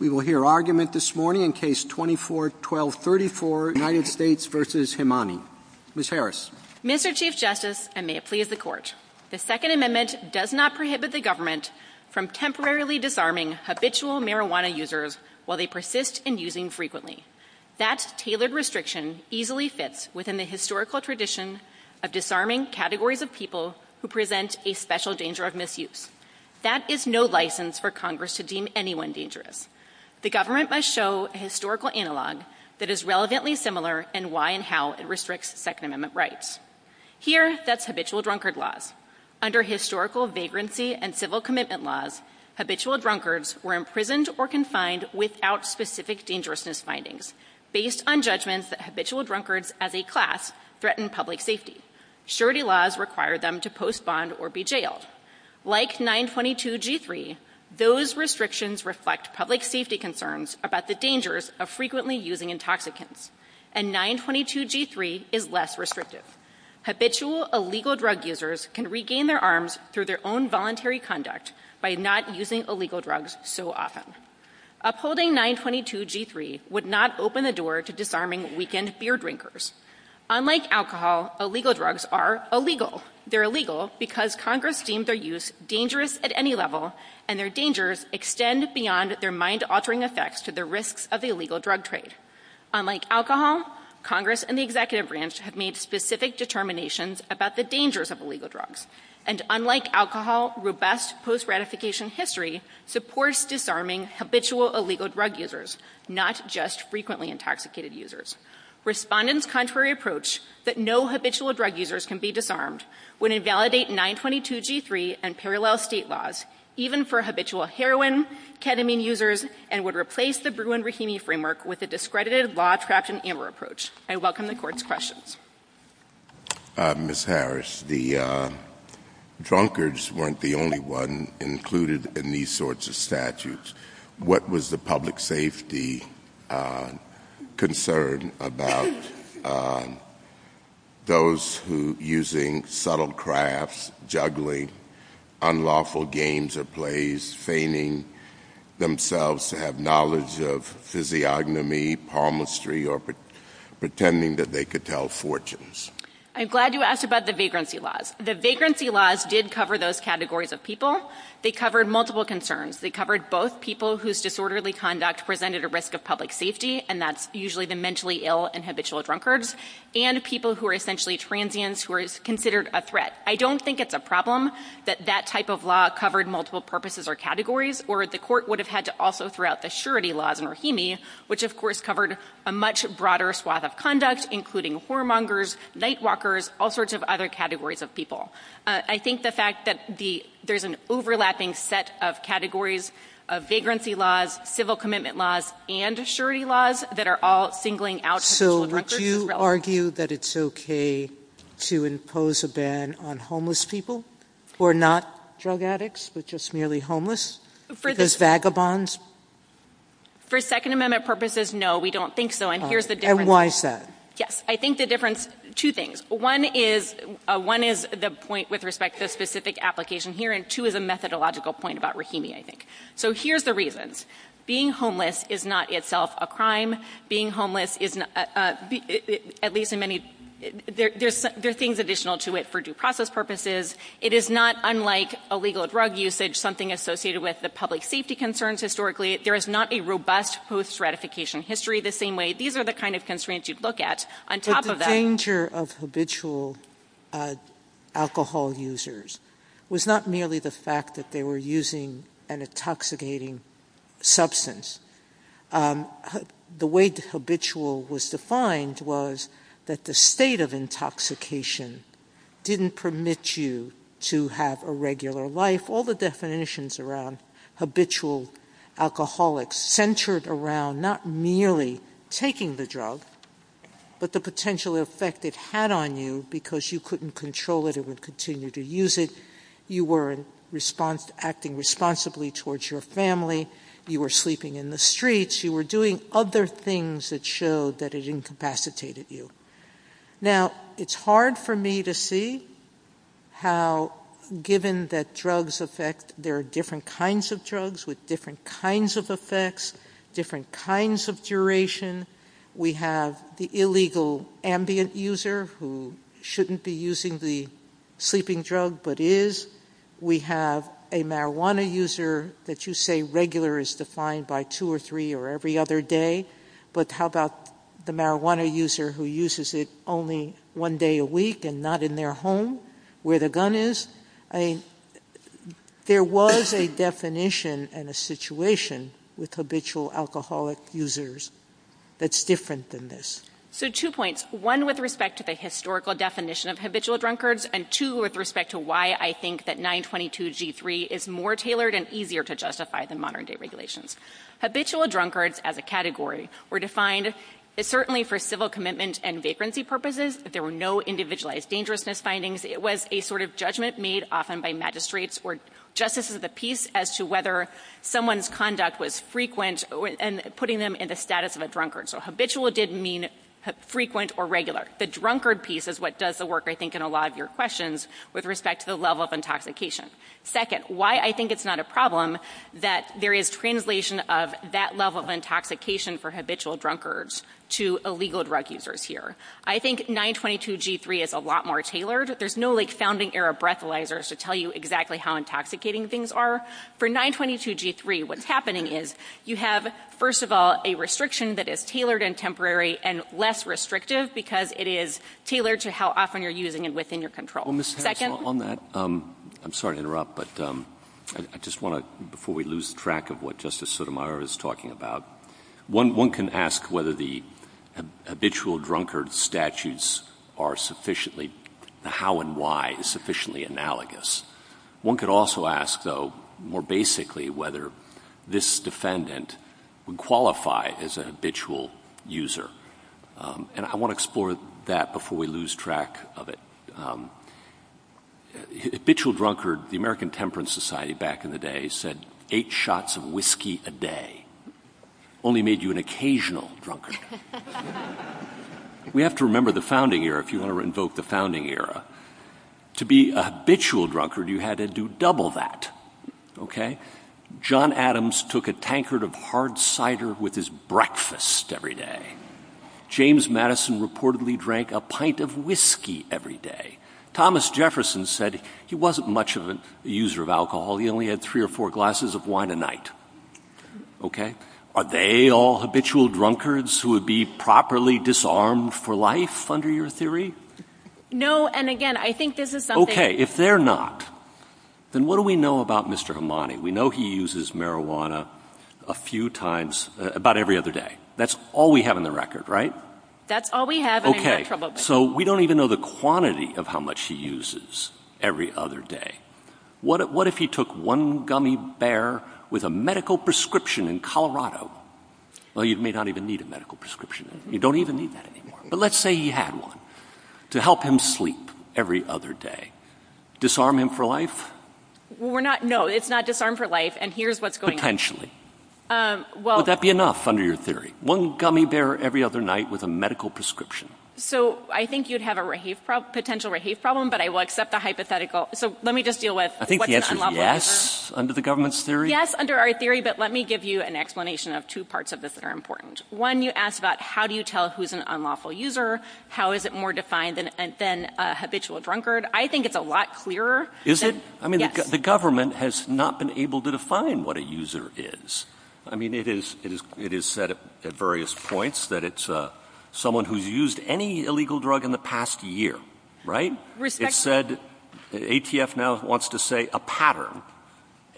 Mr. Chief Justice, and may it please the Court, the Second Amendment does not prohibit the government from temporarily disarming habitual marijuana users while they persist in using frequently. That tailored restriction easily fits within the historical tradition of disarming categories of people who present a special danger of misuse. That is no license for Congress to deem anyone dangerous. The government must show a historical analog that is relevantly similar in why and how it restricts Second Amendment rights. Here that's habitual drunkard laws. Under historical vagrancy and civil commitment laws, habitual drunkards were imprisoned or confined without specific dangerousness findings based on judgments that habitual drunkards as a class threatened public safety. Surety laws required them to post bond or be jailed. Like 922G3, those restrictions reflect public safety concerns about the dangers of frequently using intoxicants, and 922G3 is less restrictive. Habitual illegal drug users can regain their arms through their own voluntary conduct by not using illegal drugs so often. Upholding 922G3 would not open the door to disarming weekend beer drinkers. Unlike alcohol, illegal drugs are illegal. They're illegal because Congress deems their use dangerous at any level, and their dangers extend beyond their mind-altering effects to the risks of the illegal drug trade. Unlike alcohol, Congress and the Executive Branch have made specific determinations about the dangers of illegal drugs. And unlike alcohol, robust post-ratification history supports disarming habitual illegal drug users, not just frequently intoxicated users. Respondents' contrary approach that no habitual drug users can be disarmed would invalidate 922G3 and parallel state laws, even for habitual heroin, ketamine users, and would replace the Bruin-Rohini framework with a discredited law-trapped-in-amor approach. I welcome the Court's questions. Ms. Harris, the drunkards weren't the only one included in these sorts of statutes. What was the public safety concern about those who, using subtle crafts, juggling unlawful games or plays, feigning themselves to have knowledge of physiognomy, palmistry, or pretending that they could tell fortunes? I'm glad you asked about the vagrancy laws. The vagrancy laws did cover those categories of people. They covered multiple concerns. They covered both people whose disorderly conduct presented a risk of public safety, and that's usually the mentally ill and habitual drunkards, and people who are essentially transients who are considered a threat. I don't think it's a problem that that type of law covered multiple purposes or categories, or the Court would have had to also throw out the surety laws in Rohini, which of course covered a much broader swath of conduct, including whoremongers, nightwalkers, all sorts of other categories of people. I think the fact that there's an overlapping set of categories of vagrancy laws, civil commitment laws, and surety laws that are all singling out people of reference is relevant. So would you argue that it's okay to impose a ban on homeless people who are not drug addicts, but just merely homeless, because vagabonds? For Second Amendment purposes, no, we don't think so. And here's the difference. And why is that? Yes. I think the difference, two things. One is the point with respect to specific application here, and two is a methodological point about Rohini, I think. So here's the reasons. Being homeless is not itself a crime. Being homeless is, at least in many, there's things additional to it for due process purposes. It is not unlike illegal drug usage, something associated with the public safety concerns historically. There is not a robust post-ratification history the same way. These are the kind of constraints you'd look at on top of that. The danger of habitual alcohol users was not merely the fact that they were using an intoxicating substance. The way habitual was defined was that the state of intoxication didn't permit you to have a regular life. All the definitions around habitual alcoholics centered around not merely taking the drug, but the potential effect it had on you because you couldn't control it and would continue to use it. You were acting responsibly towards your family. You were sleeping in the streets. You were doing other things that showed that it incapacitated you. Now it's hard for me to see how, given that drugs affect, there are different kinds of drugs with different kinds of effects, different kinds of duration. We have the illegal ambient user who shouldn't be using the sleeping drug, but is. We have a marijuana user that you say regular is defined by two or three or every other day. But how about the marijuana user who uses it only one day a week and not in their home where the gun is? There was a definition and a situation with habitual alcoholic users that's different than this. Two points. One with respect to the historical definition of habitual drunkards and two with respect to why I think that 922G3 is more tailored and easier to justify than modern day regulations. Habitual drunkards as a category were defined certainly for civil commitment and vacancy purposes. There were no individualized dangerousness findings. It was a sort of judgment made often by magistrates for justice of the peace as to whether someone's conduct was frequent and putting them in the status of a drunkard. So habitual didn't mean frequent or regular. The drunkard piece is what does the work, I think, in a lot of your questions with respect to the level of intoxication. Second, why I think it's not a problem that there is translation of that level of intoxication for habitual drunkards to illegal drug users here. I think 922G3 is a lot more tailored. There's no like founding era breathalyzers to tell you exactly how intoxicating things are. For 922G3, what's happening is you have, first of all, a restriction that is tailored and temporary and less restrictive because it is tailored to how often you're using it within your control. Well, Ms. Hassell, on that, I'm sorry to interrupt, but I just want to, before we lose track of what Justice Sotomayor is talking about, one can ask whether the habitual drunkard statutes are sufficiently, how and why is sufficiently analogous. One can also ask, though, more basically whether this defendant would qualify as a habitual user. And I want to explore that before we lose track of it. Habitual drunkard, the American Temperance Society back in the day said eight shots of whiskey a day only made you an occasional drunkard. We have to remember the founding era, if you want to invoke the founding era. To be a habitual drunkard, you had to do double that, okay? John Adams took a tankard of hard cider with his breakfast every day. James Madison reportedly drank a pint of whiskey every day. Thomas Jefferson said he wasn't much of a user of alcohol, he only had three or four glasses of wine a night, okay? Are they all habitual drunkards who would be properly disarmed for life under your theory? No, and again, I think this is something... Okay, if they're not, then what do we know about Mr. Damani? We know he uses marijuana a few times, about every other day. That's all we have in the record, right? That's all we have in the record. Okay, so we don't even know the quantity of how much he uses every other day. What if he took one gummy bear with a medical prescription in Colorado? Well, you may not even need a medical prescription then. You don't even need that anymore. But let's say he had one to help him sleep every other day. Disarm him for life? Well, we're not... No, it's not disarm for life, and here's what's going on. Would that be enough under your theory? One gummy bear every other night with a medical prescription? So I think you'd have a potential rahayf problem, but I will accept the hypothetical. So let me just deal with... I think the answer is yes, under the government's theory. Yes, under our theory, but let me give you an explanation of two parts of this that are One, you asked about how do you tell who's an unlawful user? How is it more defined than a habitual drunkard? I think it's a lot clearer... Is it? I mean, the government has not been able to define what a user is. I mean, it is said at various points that it's someone who's used any illegal drug in the past year, right? It's said, ATF now wants to say a pattern,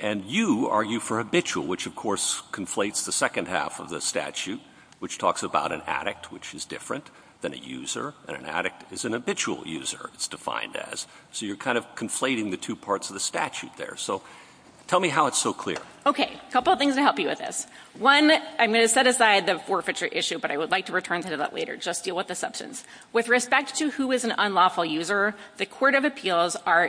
and you argue for habitual, which of course conflates the second half of the statute, which talks about an addict, which is different than a user, and an addict is an habitual user, it's defined as. So you're kind of conflating the two parts of the statute there. So tell me how it's so clear. Okay, a couple of things to help you with this. One, I'm going to set aside the forfeiture issue, but I would like to return to that later. Just deal with the substance. With respect to who is an unlawful user, the Court of Appeals are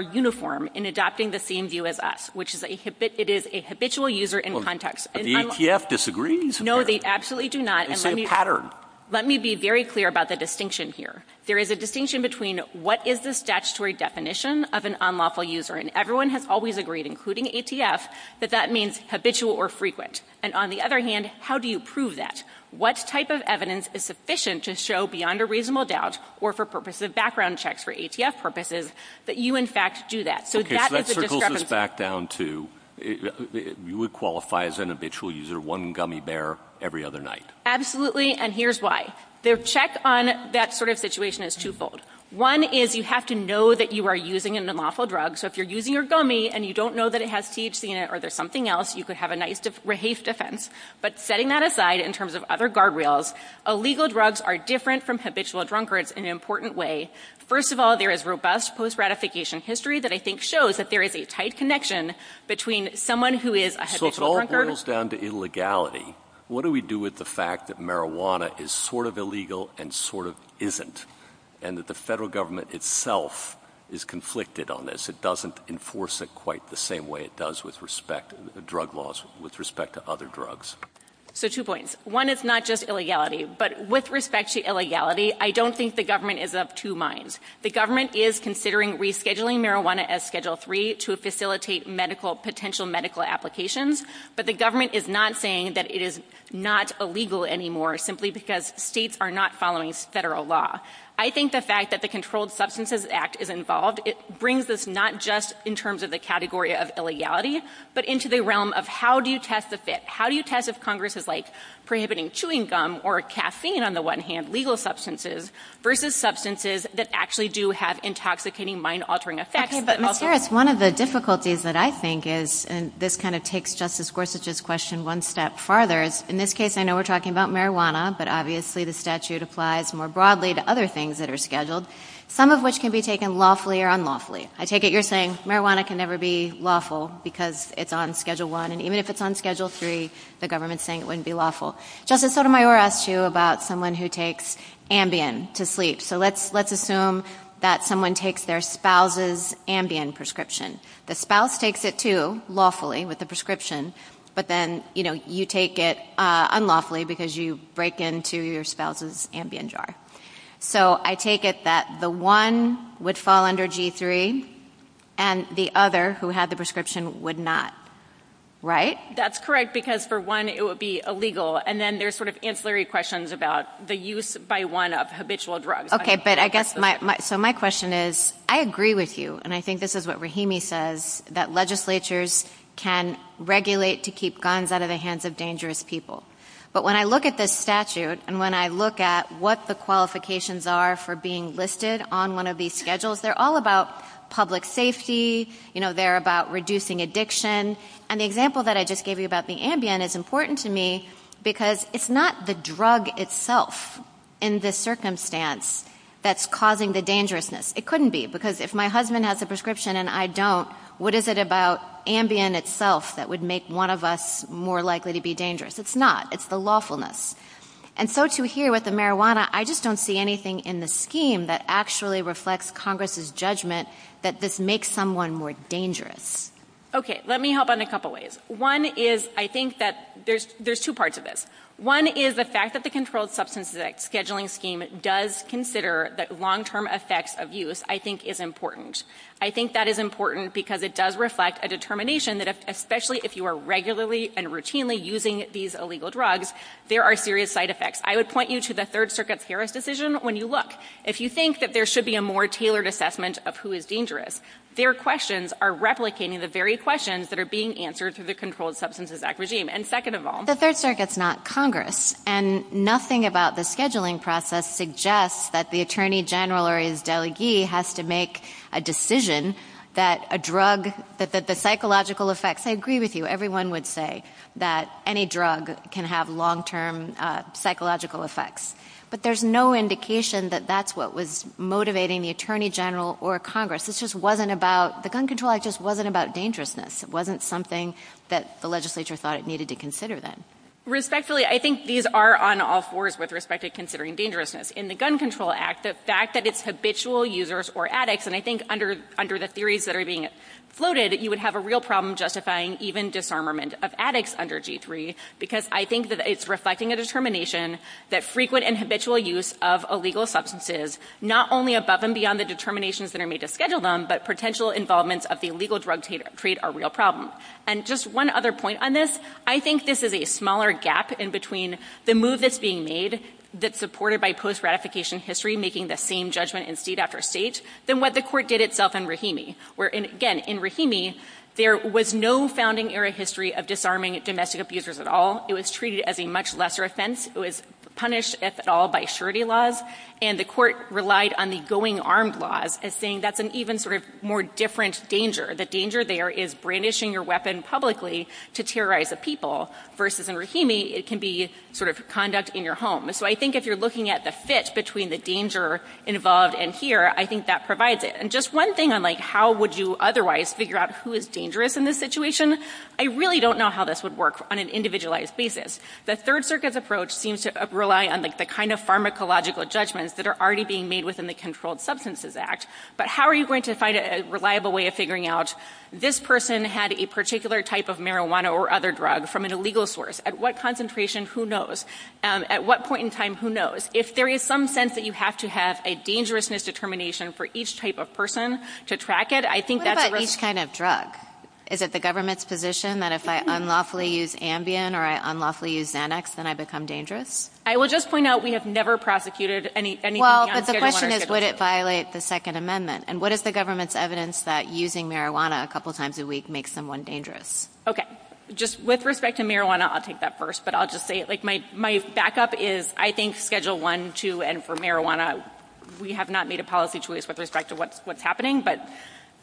uniform in adopting the same view as us, which is that it is a habitual user in context. Well, the ATF disagrees. No, they absolutely do not. It's a pattern. Let me be very clear about the distinction here. There is a distinction between what is the statutory definition of an unlawful user, and everyone has always agreed, including ATF, that that means habitual or frequent. And on the other hand, how do you prove that? What type of evidence is sufficient to show beyond a reasonable doubt or for purposes of background checks for ATF purposes that you, in fact, do that? So that is a discrepancy. Okay, so that circles us back down to you would qualify as an habitual user one gummy bear every other night. Absolutely, and here's why. The check on that sort of situation is twofold. One is you have to know that you are using an unlawful drug. So if you're using your gummy and you don't know that it has THC in it or there's something else, you could have a nice, rehased offense. But setting that aside in terms of other guardrails, illegal drugs are different from habitual drunkards in an important way. First of all, there is robust post-ratification history that I think shows that there is a tight connection between someone who is a habitual drunkard. So if it all boils down to illegality, what do we do with the fact that marijuana is sort of illegal and sort of isn't, and that the federal government itself is conflicted on this? It doesn't enforce it quite the same way it does with respect to drug laws with respect to other drugs. So two points. One, it's not just illegality, but with respect to illegality, I don't think the government is of two minds. The government is considering rescheduling marijuana as Schedule 3 to facilitate medical potential medical applications, but the government is not saying that it is not illegal anymore simply because states are not following federal law. I think the fact that the Controlled Substances Act is involved, it brings us not just in terms of the category of illegality, but into the realm of how do you test the fit? How do you test if Congress is, like, prohibiting chewing gum or caffeine on the one hand, legal substances, versus substances that actually do have intoxicating, mind-altering effects? But, Ms. Harris, one of the difficulties that I think is, and this kind of takes Justice Gorsuch's question one step farther, in this case, I know we're talking about marijuana, but obviously the statute applies more broadly to other things that are scheduled, some of which can be taken lawfully or unlawfully. I take it you're saying marijuana can never be lawful because it's on Schedule 1, and even if it's on Schedule 3, the government's saying it wouldn't be lawful. Justice Sotomayor asked you about someone who takes Ambien to sleep, so let's assume that someone takes their spouse's Ambien prescription. The spouse takes it too, lawfully, with the prescription, but then, you know, you take it unlawfully because you break into your spouse's Ambien jar. So, I take it that the one would fall under G3, and the other, who had the prescription, would not, right? That's correct, because, for one, it would be illegal, and then there's sort of ancillary questions about the use, by one, of habitual drugs. Okay, but I guess, so my question is, I agree with you, and I think this is what Rahimi says, that legislatures can regulate to keep guns out of the hands of dangerous people, but when I look at this statute, and when I look at what the qualifications are for being listed on one of these schedules, they're all about public safety, you know, they're about reducing addiction, and the example that I just gave you about the Ambien is important to me because it's not the drug itself, in the circumstance, that's causing the dangerousness. It couldn't be, because if my husband has a prescription and I don't, what is it about Ambien itself that would make one of us more likely to be dangerous? It's not. It's the lawfulness. And so, too, here, with the marijuana, I just don't see anything in the scheme that actually reflects Congress's judgment that this makes someone more dangerous. Okay, let me help on a couple ways. One is, I think that there's two parts of this. One is the fact that the Controlled Substances Scheduling Scheme does consider that long-term effects of use, I think, is important. I think that is important because it does reflect a determination that, especially if you are regularly and routinely using these illegal drugs, there are serious side effects. I would point you to the Third Circuit's Harris decision when you look. If you think that there should be a more tailored assessment of who is dangerous, their questions are replicating the various questions that are being answered through the Controlled Substances Act regime. And second of all, the Third Circuit's not Congress, and nothing about the scheduling process suggests that the Attorney General or his delegee has to make a decision that a drug, that the psychological effects, I agree with you, everyone would say that any drug can have long-term psychological effects. But there's no indication that that's what was motivating the Attorney General or Congress. This just wasn't about, the gun control act just wasn't about dangerousness. It wasn't something that the legislature thought it needed to consider then. Respectfully, I think these are on all fours with respect to considering dangerousness. In the Gun Control Act, the fact that it's habitual users or addicts, and I think under the theories that are being floated, you would have a real problem justifying even disarmament of addicts under G3, because I think that it's reflecting a determination that frequent and habitual use of illegal substances, not only above and beyond the determinations that are made to schedule them, but potential involvement of the illegal drug trade are real problems. And just one other point on this. I think this is a smaller gap in between the move that's being made that's supported by post-ratification history, making the same judgment in state after state, than what the court did itself in Rahimi, where again, in Rahimi, there was no founding era history of disarming domestic abusers at all. It was treated as a much lesser offense. It was punished, if at all, by surety laws, and the court relied on the going armed laws as saying that's an even sort of more different danger. The danger there is brandishing your weapon publicly to terrorize the people, versus in Rahimi, it can be sort of conduct in your home. So I think if you're looking at the fit between the danger involved in here, I think that provides it. And just one thing on how would you otherwise figure out who is dangerous in this situation, I really don't know how this would work on an individualized basis. The Third Circuit's approach seems to rely on the kind of pharmacological judgments that are already being made within the Controlled Substances Act, but how are you going to find a reliable way of figuring out this person had a particular type of marijuana or other drug from an illegal source? At what concentration, who knows? At what point in time, who knows? If there is some sense that you have to have a dangerousness determination for each type of person to track it, I think that's a risk. What about each kind of drug? Is it the government's position that if I unlawfully use Ambien or I unlawfully use Xanax, then I become dangerous? I will just point out we have never prosecuted anything on the Third and 116th. Well, but the question is would it violate the Second Amendment? And what is the government's evidence that using marijuana a couple times a week makes someone dangerous? Okay. Just with respect to marijuana, I'll take that first, but I'll just say my backup is I think Schedule 1, 2, and for marijuana, we have not made a policy choice with respect to what's happening, but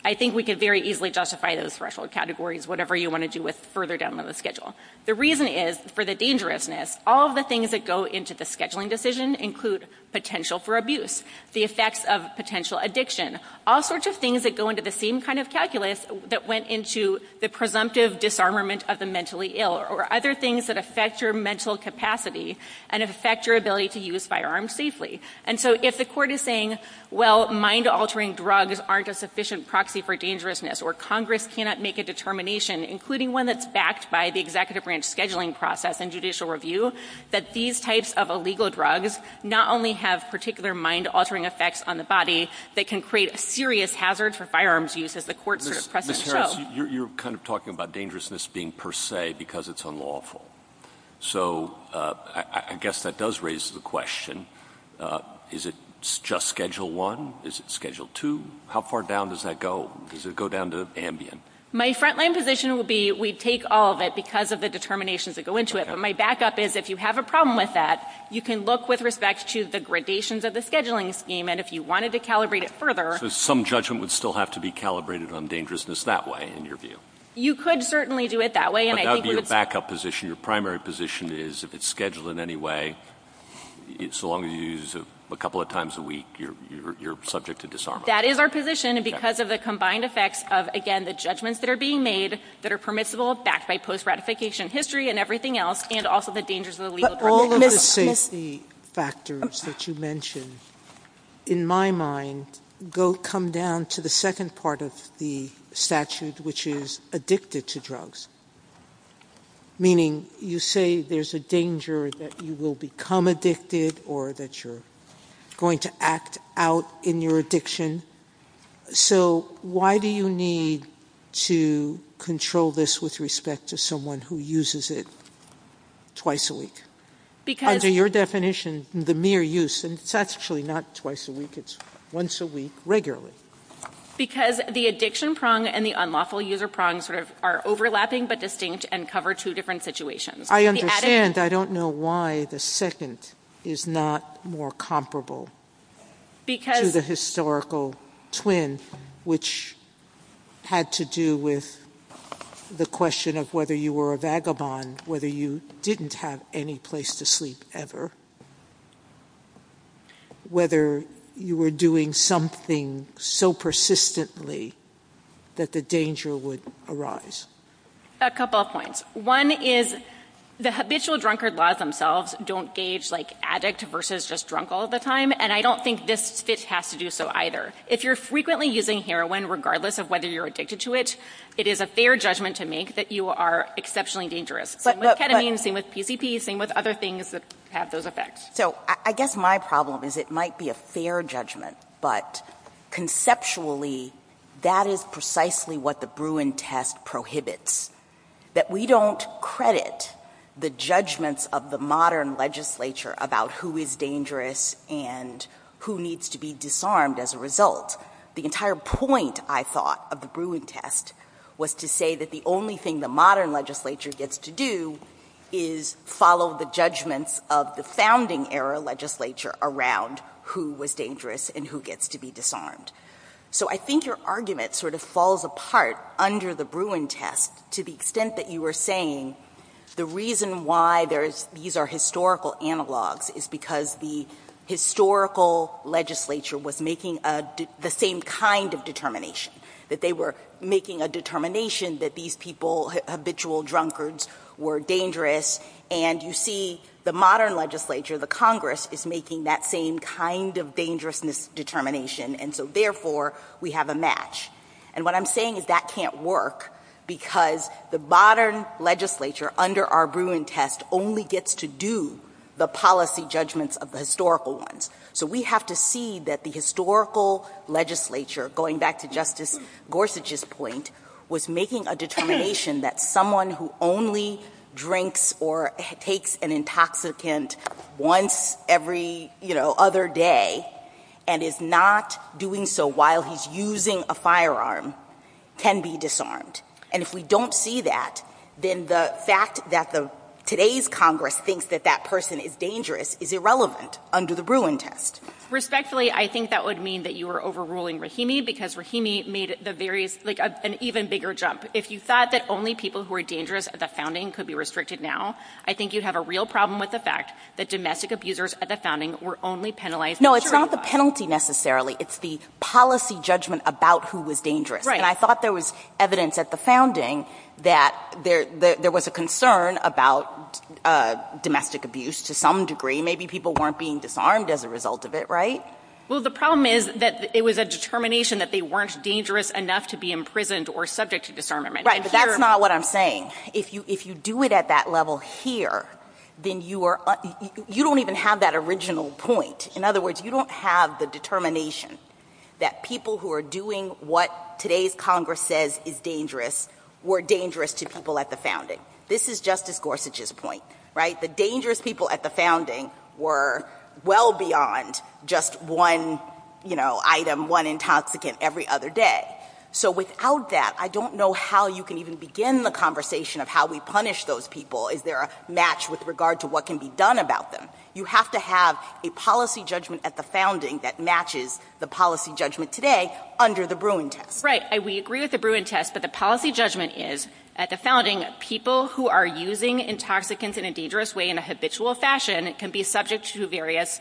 I think we could very easily justify those threshold categories, whatever you want to do with further down the schedule. The reason is for the dangerousness, all of the things that go into the scheduling decision include potential for abuse, the effects of potential addiction, all sorts of things that go into the same kind of calculus that went into the presumptive disarmament of the mentally ill or other things that affect your mental capacity and affect your ability to use firearms safely. And so if the court is saying, well, mind-altering drugs aren't a sufficient proxy for dangerousness or Congress cannot make a determination, including one that's backed by the Executive Branch scheduling process and judicial review, that these types of illegal drugs not only have particular mind-altering effects on the body, they can create a serious hazard for firearms use as the court's precedent shows. Ms. Harris, you're kind of talking about dangerousness being per se because it's unlawful. So I guess that does raise the question, is it just Schedule 1? Is it Schedule 2? How far down does that go? Does it go down to Ambien? My frontline position would be we'd take all of it because of the determinations that go into it. But my backup is if you have a problem with that, you can look with respect to the gradations of the scheduling scheme. And if you wanted to calibrate it further... So some judgment would still have to be calibrated on dangerousness that way, in your view? You could certainly do it that way, and I think we would... But that would be your backup position. Your primary position is if it's scheduled in any way, so long as you use it a couple of times a week, you're subject to disarmament. That is our position, and because of the combined effects of, again, the judgments that are being made that are permissible, backed by post-ratification history and everything else, and also the dangers of the legal... But all of the safety factors that you mentioned, in my mind, come down to the second part of the statute, which is addicted to drugs. Meaning you say there's a danger that you will become addicted or that you're going to act out in your addiction. So why do you need to control this with respect to someone who uses it twice a week? Because... Under your definition, the mere use, and it's actually not twice a week, it's once a week regularly. Because the addiction prong and the unlawful user prong sort of are overlapping, but distinct, and cover two different situations. I understand. I don't know why the second is not more comparable to the historical twin, which had to do with the question of whether you were a vagabond, whether you didn't have any place to sleep ever, whether you were doing something so persistently that the danger would arise. A couple of points. One is the habitual drunkard laws themselves don't gauge addict versus just drunk all the time, and I don't think this fit has to do so either. If you're frequently using heroin, regardless of whether you're addicted to it, it is a fair judgment to make that you are exceptionally dangerous. But with ketamine, same with PCP, same with other things that have those effects. So I guess my problem is it might be a fair judgment, but conceptually, that is precisely what the Bruin test prohibits. That we don't credit the judgments of the modern legislature about who is dangerous and who needs to be disarmed as a result. The entire point, I thought, of the Bruin test was to say that the only thing the modern legislature gets to do is follow the judgments of the founding era legislature around who was dangerous and who gets to be disarmed. So I think your argument sort of falls apart under the Bruin test to the extent that you were saying the reason why these are historical analogs is because the historical legislature was making the same kind of determination. That they were making a determination that these people, habitual drunkards, were dangerous, and you see the modern legislature, the Congress, is making that same kind of dangerous determination, and so therefore, we have a match. And what I'm saying is that can't work because the modern legislature under our Bruin test only gets to do the policy judgments of the historical ones. So we have to see that the historical legislature, going back to Justice Gorsuch's point, was making a determination that someone who only drinks or takes an intoxicant once every other day and is not doing so while he's using a firearm can be disarmed. And if we don't see that, then the fact that today's Congress thinks that that person is dangerous is irrelevant under the Bruin test. Respectfully, I think that would mean that you were overruling Rahimi because Rahimi made an even bigger jump. If you thought that only people who were dangerous at the founding could be restricted now, I think you'd have a real problem with the fact that domestic abusers at the founding were only penalized. No, it's not the penalty, necessarily. It's the policy judgment about who was dangerous. And I thought there was evidence at the founding that there was a concern about domestic abuse to some degree. Maybe people weren't being disarmed as a result of it, right? Well, the problem is that it was a determination that they weren't dangerous enough to be imprisoned or subject to disarmament. Right, but that's not what I'm saying. If you do it at that level here, then you are – you don't even have that original point. In other words, you don't have the determination that people who are doing what today's Congress says is dangerous were dangerous to people at the founding. This is Justice Gorsuch's point, right? The dangerous people at the founding were well beyond just one, you know, item, one intoxicant every other day. So without that, I don't know how you can even begin the conversation of how we punish those people. Is there a match with regard to what can be done about them? You have to have a policy judgment at the founding that matches the policy judgment today under the Bruin test. Right, and we agree with the Bruin test, but the policy judgment is at the founding, people who are using intoxicants in a dangerous way in a habitual fashion can be subject to various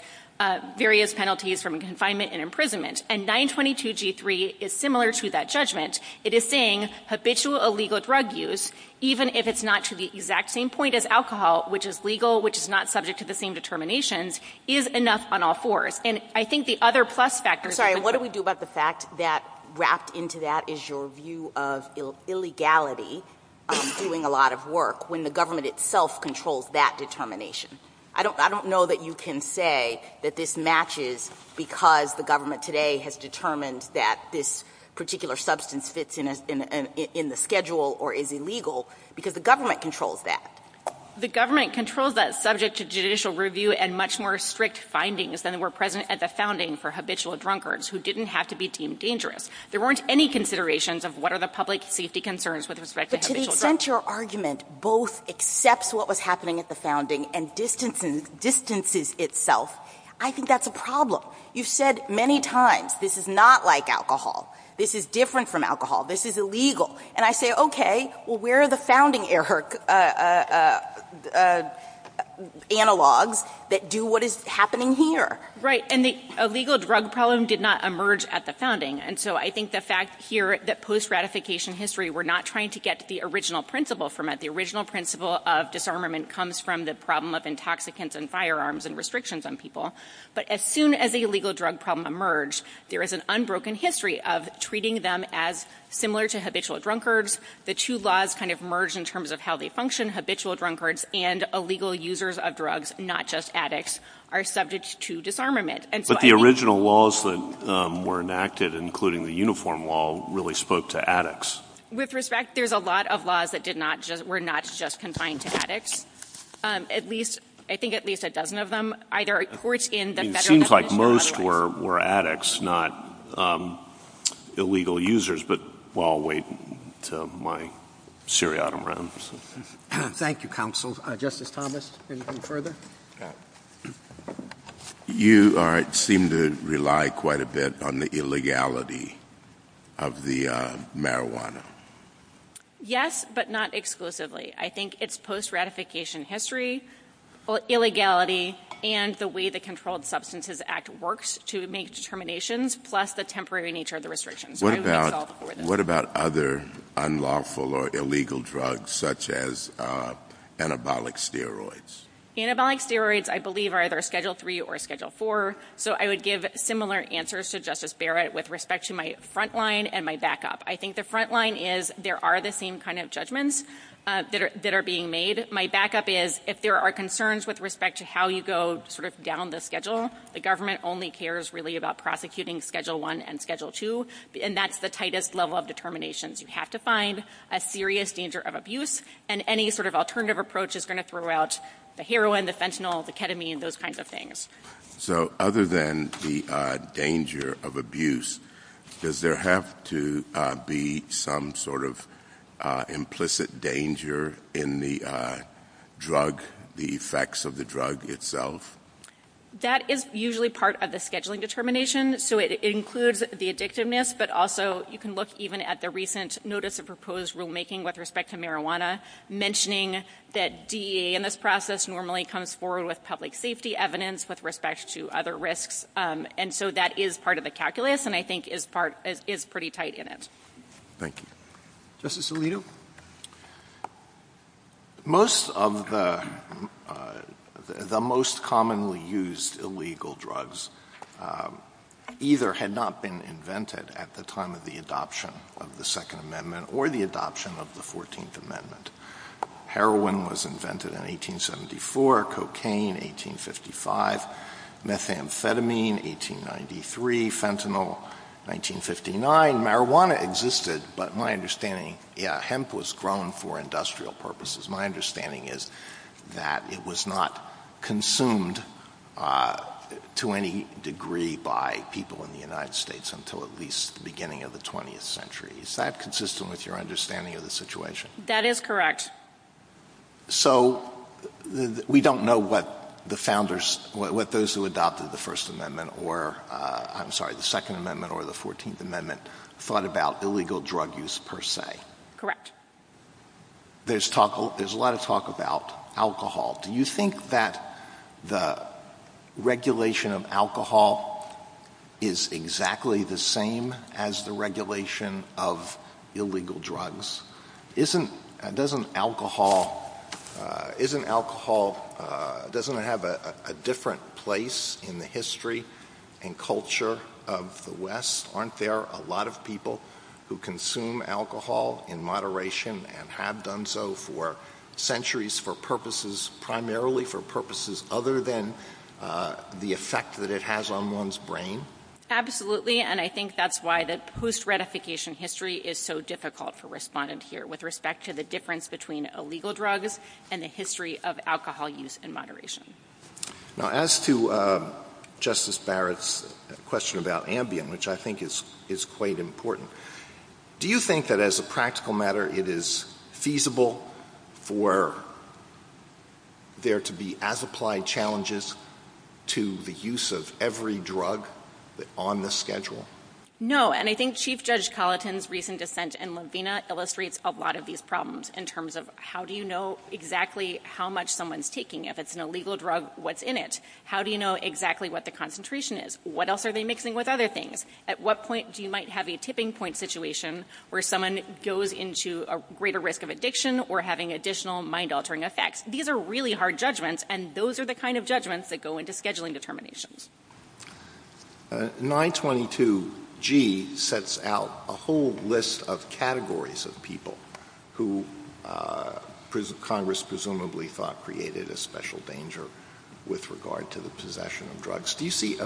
penalties from confinement and imprisonment. And 922G3 is similar to that judgment. It is saying habitual illegal drug use, even if it's not to the exact same point as alcohol, which is legal, which is not subject to the same determinations, is enough on all fours. And I think the other plus factors – I'm sorry, what do we do about the fact that wrapped into that is your view of illegality of doing a lot of work when the government itself controls that determination? I don't know that you can say that this matches because the government today has determined that this particular substance fits in the schedule or is illegal because the government controls that. The government controls that subject to judicial review and much more strict findings than were present at the founding for habitual drunkards who didn't have to be deemed dangerous. There weren't any considerations of what are the public safety concerns with respect to habitual drugs. But to present your argument both except what was happening at the founding and distances itself, I think that's a problem. You've said many times this is not like alcohol, this is different from alcohol, this is illegal. And I say, okay, well, where are the founding analogs that do what is happening here? Right. And the illegal drug problem did not emerge at the founding. And so I think the fact here that post-ratification history, we're not trying to get to the original principle from it. The original principle of disarmament comes from the problem of intoxicants and firearms and restrictions on people. But as soon as the illegal drug problem emerged, there is an unbroken history of treating them as similar to habitual drunkards. The two laws kind of merged in terms of how they function. Habitual drunkards and illegal users of drugs, not just addicts, are subject to disarmament. But the original laws that were enacted, including the uniform law, really spoke to addicts. With respect, there's a lot of laws that were not just confined to addicts. At least, I think at least a dozen of them, either a court in the federal government... It seems like most were addicts, not illegal users. But while waiting to my seriatim rounds. Thank you, counsel. Justice Thomas, anything further? You seem to rely quite a bit on the illegality of the marijuana. Yes, but not exclusively. I think it's post-ratification history, illegality, and the way the Controlled Substances Act works to make determinations, plus the temporary nature of the restrictions. What about other unlawful or illegal drugs, such as anabolic steroids? Anabolic steroids, I believe, are either Schedule 3 or Schedule 4. So I would give similar answers to Justice Barrett with respect to my front line and my backup. I think the front line is, there are the same kind of judgments that are being made. My backup is, if there are concerns with respect to how you go down the schedule, the government only cares really about prosecuting Schedule 1 and Schedule 2, and that's the tightest level of determination. You have to find a serious danger of abuse, and any sort of alternative approach is going to throw out the heroin, the fentanyl, the ketamine, those kinds of things. So other than the danger of abuse, does there have to be some sort of implicit danger in the drug, the effects of the drug itself? That is usually part of the scheduling determination, so it includes the addictiveness, but also you can look even at the recent Notice of Proposed Rulemaking with respect to marijuana, mentioning that DEA in this process normally comes forward with public safety evidence with respect to other risks, and so that is part of the calculus, and I think is pretty tight in it. Thank you. Justice Alito? Most of the most commonly used illegal drugs either had not been invented at the time of the adoption of the Second Amendment or the adoption of the Fourteenth Amendment. Heroin was invented in 1874, cocaine 1855, methamphetamine 1893, fentanyl 1959. Marijuana existed, but my understanding, yeah, hemp was grown for industrial purposes. My understanding is that it was not consumed to any degree by people in the United States until at least the beginning of the 20th century. Is that consistent with your understanding of the situation? That is correct. So we don't know what the founders, what those who adopted the First Amendment or, I'm sorry, the Second Amendment or the Fourteenth Amendment thought about illegal drug use per se. Correct. There's a lot of talk about alcohol. Do you think that the regulation of alcohol is exactly the same as the regulation of illegal drugs? Isn't, doesn't alcohol, isn't alcohol, doesn't it have a different place in the history and culture of the West? Aren't there a lot of people who consume alcohol in moderation and have done so for centuries for purposes, primarily for purposes other than the effect that it has on one's brain? Absolutely, and I think that's why the post-ratification history is so difficult for respondents here with respect to the difference between illegal drugs and the history of alcohol use in moderation. Now as to Justice Barrett's question about Ambien, which I think is quite important, do you think that as a practical matter it is feasible for there to be as applied challenges to the use of every drug on this schedule? No, and I think Chief Judge Colleton's recent dissent in Laveena illustrates a lot of these problems in terms of how do you know exactly how much someone's taking, if it's an illegal drug, what's in it? How do you know exactly what the concentration is? What else are they mixing with other things? At what point do you might have a tipping point situation where someone goes into a greater risk of addiction or having additional mind-altering effects? These are really hard judgments, and those are the kind of judgments that go into scheduling determinations. 922G sets out a whole list of categories of people who Congress presumably thought created a special danger with regard to the possession of drugs. Do you see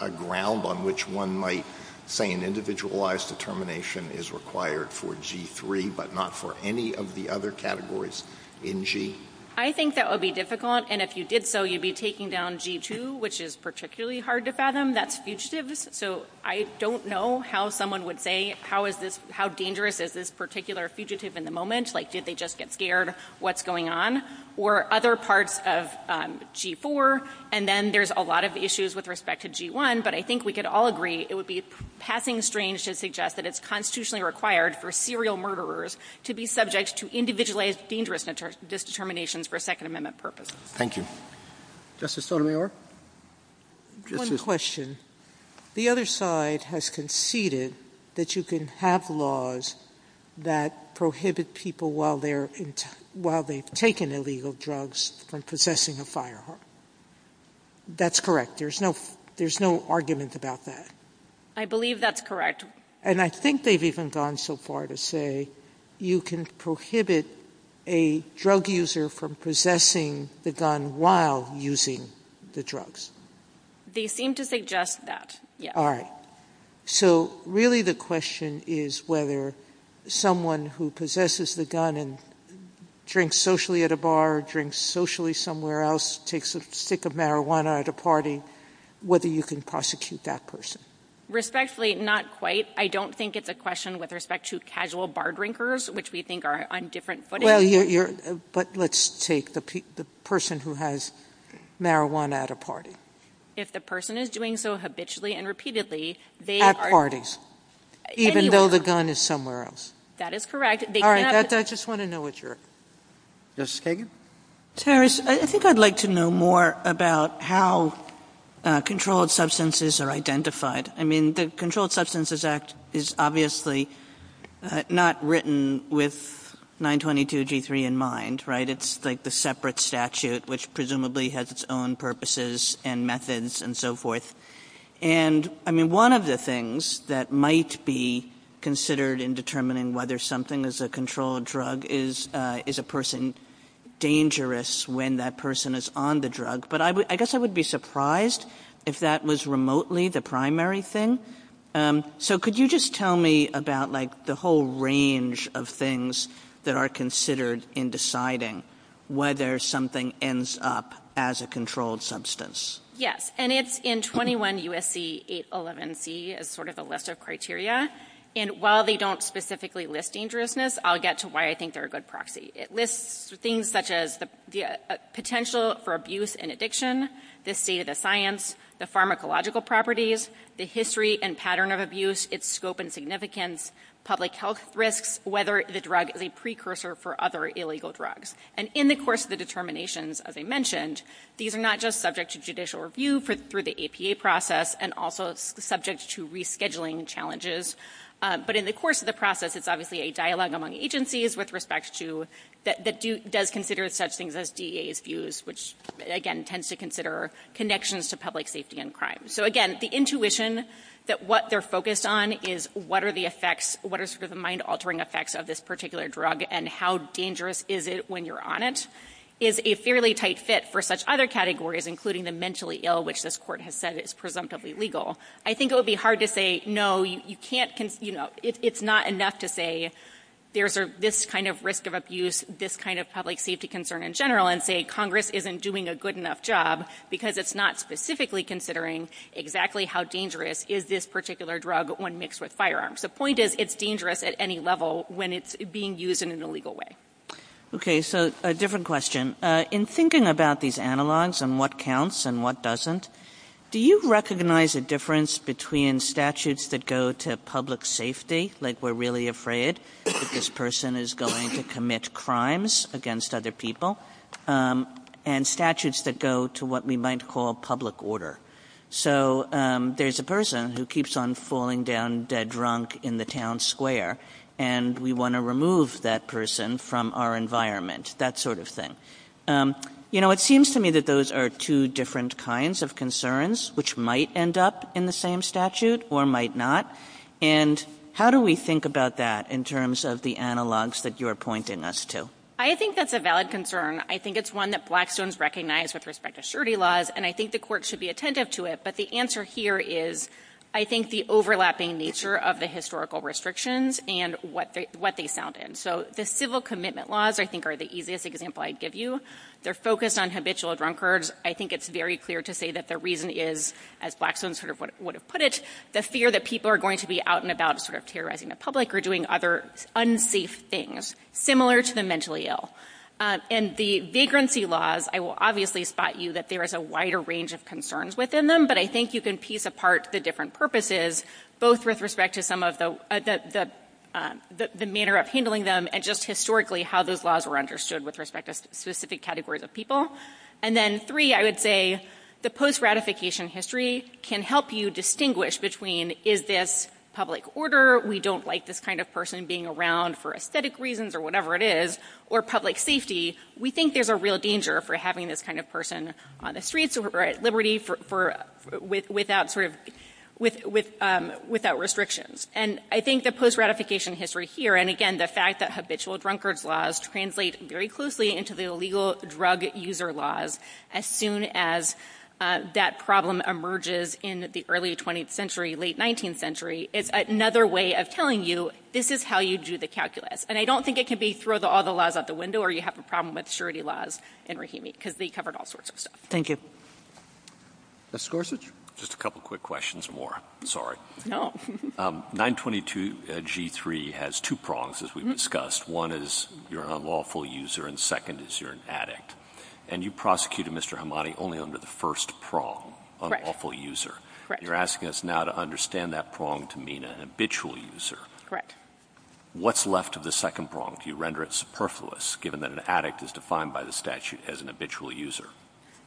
a ground on which one might say an individualized determination is required for G3, but not for any of the other categories in G? I think that would be difficult, and if you did so, you'd be taking down G2, which is particularly hard to fathom. That's fugitives, so I don't know how someone would say how dangerous is this particular fugitive in the moment, like did they just get scared, what's going on? Or other parts of G4, and then there's a lot of issues with respect to G1, but I think we could all agree it would be passing strange to suggest that it's constitutionally required for serial murderers to be subject to individualized dangerous determinations for Second Amendment purposes. Thank you. Justice Sotomayor? One question. The other side has conceded that you can have laws that prohibit people while they've taken illegal drugs from possessing a firearm. That's correct. There's no argument about that. I believe that's correct. And I think they've even gone so far to say you can prohibit a drug user from possessing the gun while using the drugs. They seem to suggest that, yes. All right. So really the question is whether someone who possesses the gun and drinks socially at a bar, drinks socially somewhere else, takes a stick of marijuana at a party, whether you can prosecute that person? Respectfully, not quite. I don't think it's a question with respect to casual bar drinkers, which we think are on different footing. But let's take the person who has marijuana at a party. If the person is doing so habitually and repeatedly, they are... Even though the gun is somewhere else. That is correct. All right. I just want to know what your... Justice Kagan? Terrace, I think I'd like to know more about how controlled substances are identified. I mean, the Controlled Substances Act is obviously not written with 922 G3 in mind, right? It's like the separate statute, which presumably has its own purposes and methods and so forth. And I mean, one of the things that might be considered in determining whether something is a controlled drug is a person dangerous when that person is on the drug. But I guess I would be surprised if that was remotely the primary thing. So could you just tell me about the whole range of things that are considered in deciding whether something ends up as a controlled substance? Yes. And it's in 21 U.S.C. 811C as sort of a list of criteria. And while they don't specifically list dangerousness, I'll get to why I think they're a good proxy. It lists things such as the potential for abuse and addiction, the state of the science, the pharmacological properties, the history and pattern of abuse, its scope and significance, public health risks, whether the drug is a precursor for other illegal drugs. And in the course of the determinations, as I mentioned, these are not just subject to judicial review through the APA process and also subject to rescheduling challenges. But in the course of the process, it's obviously a dialogue among agencies with respect to that does consider such things as DEA's views, which, again, tends to consider connections to public safety and crime. So again, the intuition that what they're focused on is what are the effects, what are sort of the mind-altering effects of this particular drug and how dangerous is it when you're on it is a fairly tight fit for such other categories, including the mentally ill, which this court has said is presumptively legal. I think it would be hard to say, no, you can't, you know, it's not enough to say there's this kind of risk of abuse, this kind of public safety concern in general, and say Congress isn't doing a good enough job because it's not specifically considering exactly how dangerous is this particular drug when mixed with firearms. The point is it's dangerous at any level when it's being used in an illegal way. Okay. So a different question. In thinking about these analogs and what counts and what doesn't, do you recognize a difference between statutes that go to public safety, like we're really afraid that this person is going to commit crimes against other people, and statutes that go to what we might call public order? So there's a person who keeps on falling down dead drunk in the town square, and we want to remove that person from our environment, that sort of thing. You know, it seems to me that those are two different kinds of concerns, which might end up in the same statute or might not, and how do we think about that in terms of the analog that you're pointing us to? I think that's a valid concern. I think it's one that Blackstones recognize with respect to surety laws, and I think the court should be attentive to it, but the answer here is I think the overlapping nature of the historical restrictions and what they sound in. So the civil commitment laws, I think, are the easiest example I'd give you. They're focused on habitual drunkards. I think it's very clear to say that the reason is, as Blackstones sort of would have put it, the fear that people are going to be out and about sort of terrorizing the public or doing other unsafe things, similar to the mentally ill. And the vagrancy laws, I will obviously spot you that there is a wider range of concerns within them, but I think you can piece apart the different purposes, both with respect to some of the manner of handling them and just historically how those laws were understood with respect to specific categories of people. And then three, I would say the post-ratification history can help you distinguish between is this public order, we don't like this kind of person being around for aesthetic reasons or whatever it is, or public safety, we think there's a real danger for having this kind of person on the streets or at liberty without restrictions. And I think the post-ratification history here, and again, the fact that habitual drunkards laws translate very closely into the illegal drug user laws, as soon as that problem emerges in the early 20th century, late 19th century, it's another way of telling you, this is how you do the calculus. And I don't think it can be throw all the laws out the window or you have a problem with surety laws in Rahimi, because they covered all sorts of stuff. Thank you. Just a couple quick questions more, sorry. No. 922 G3 has two prongs, as we've discussed. One is you're an unlawful user and second is you're an addict. And you prosecuted Mr. Hamadi only under the first prong, unlawful user. You're asking us now to understand that prong to mean an habitual user. What's left of the second prong? Do you render it superfluous given that an addict is defined by the statute as an habitual user?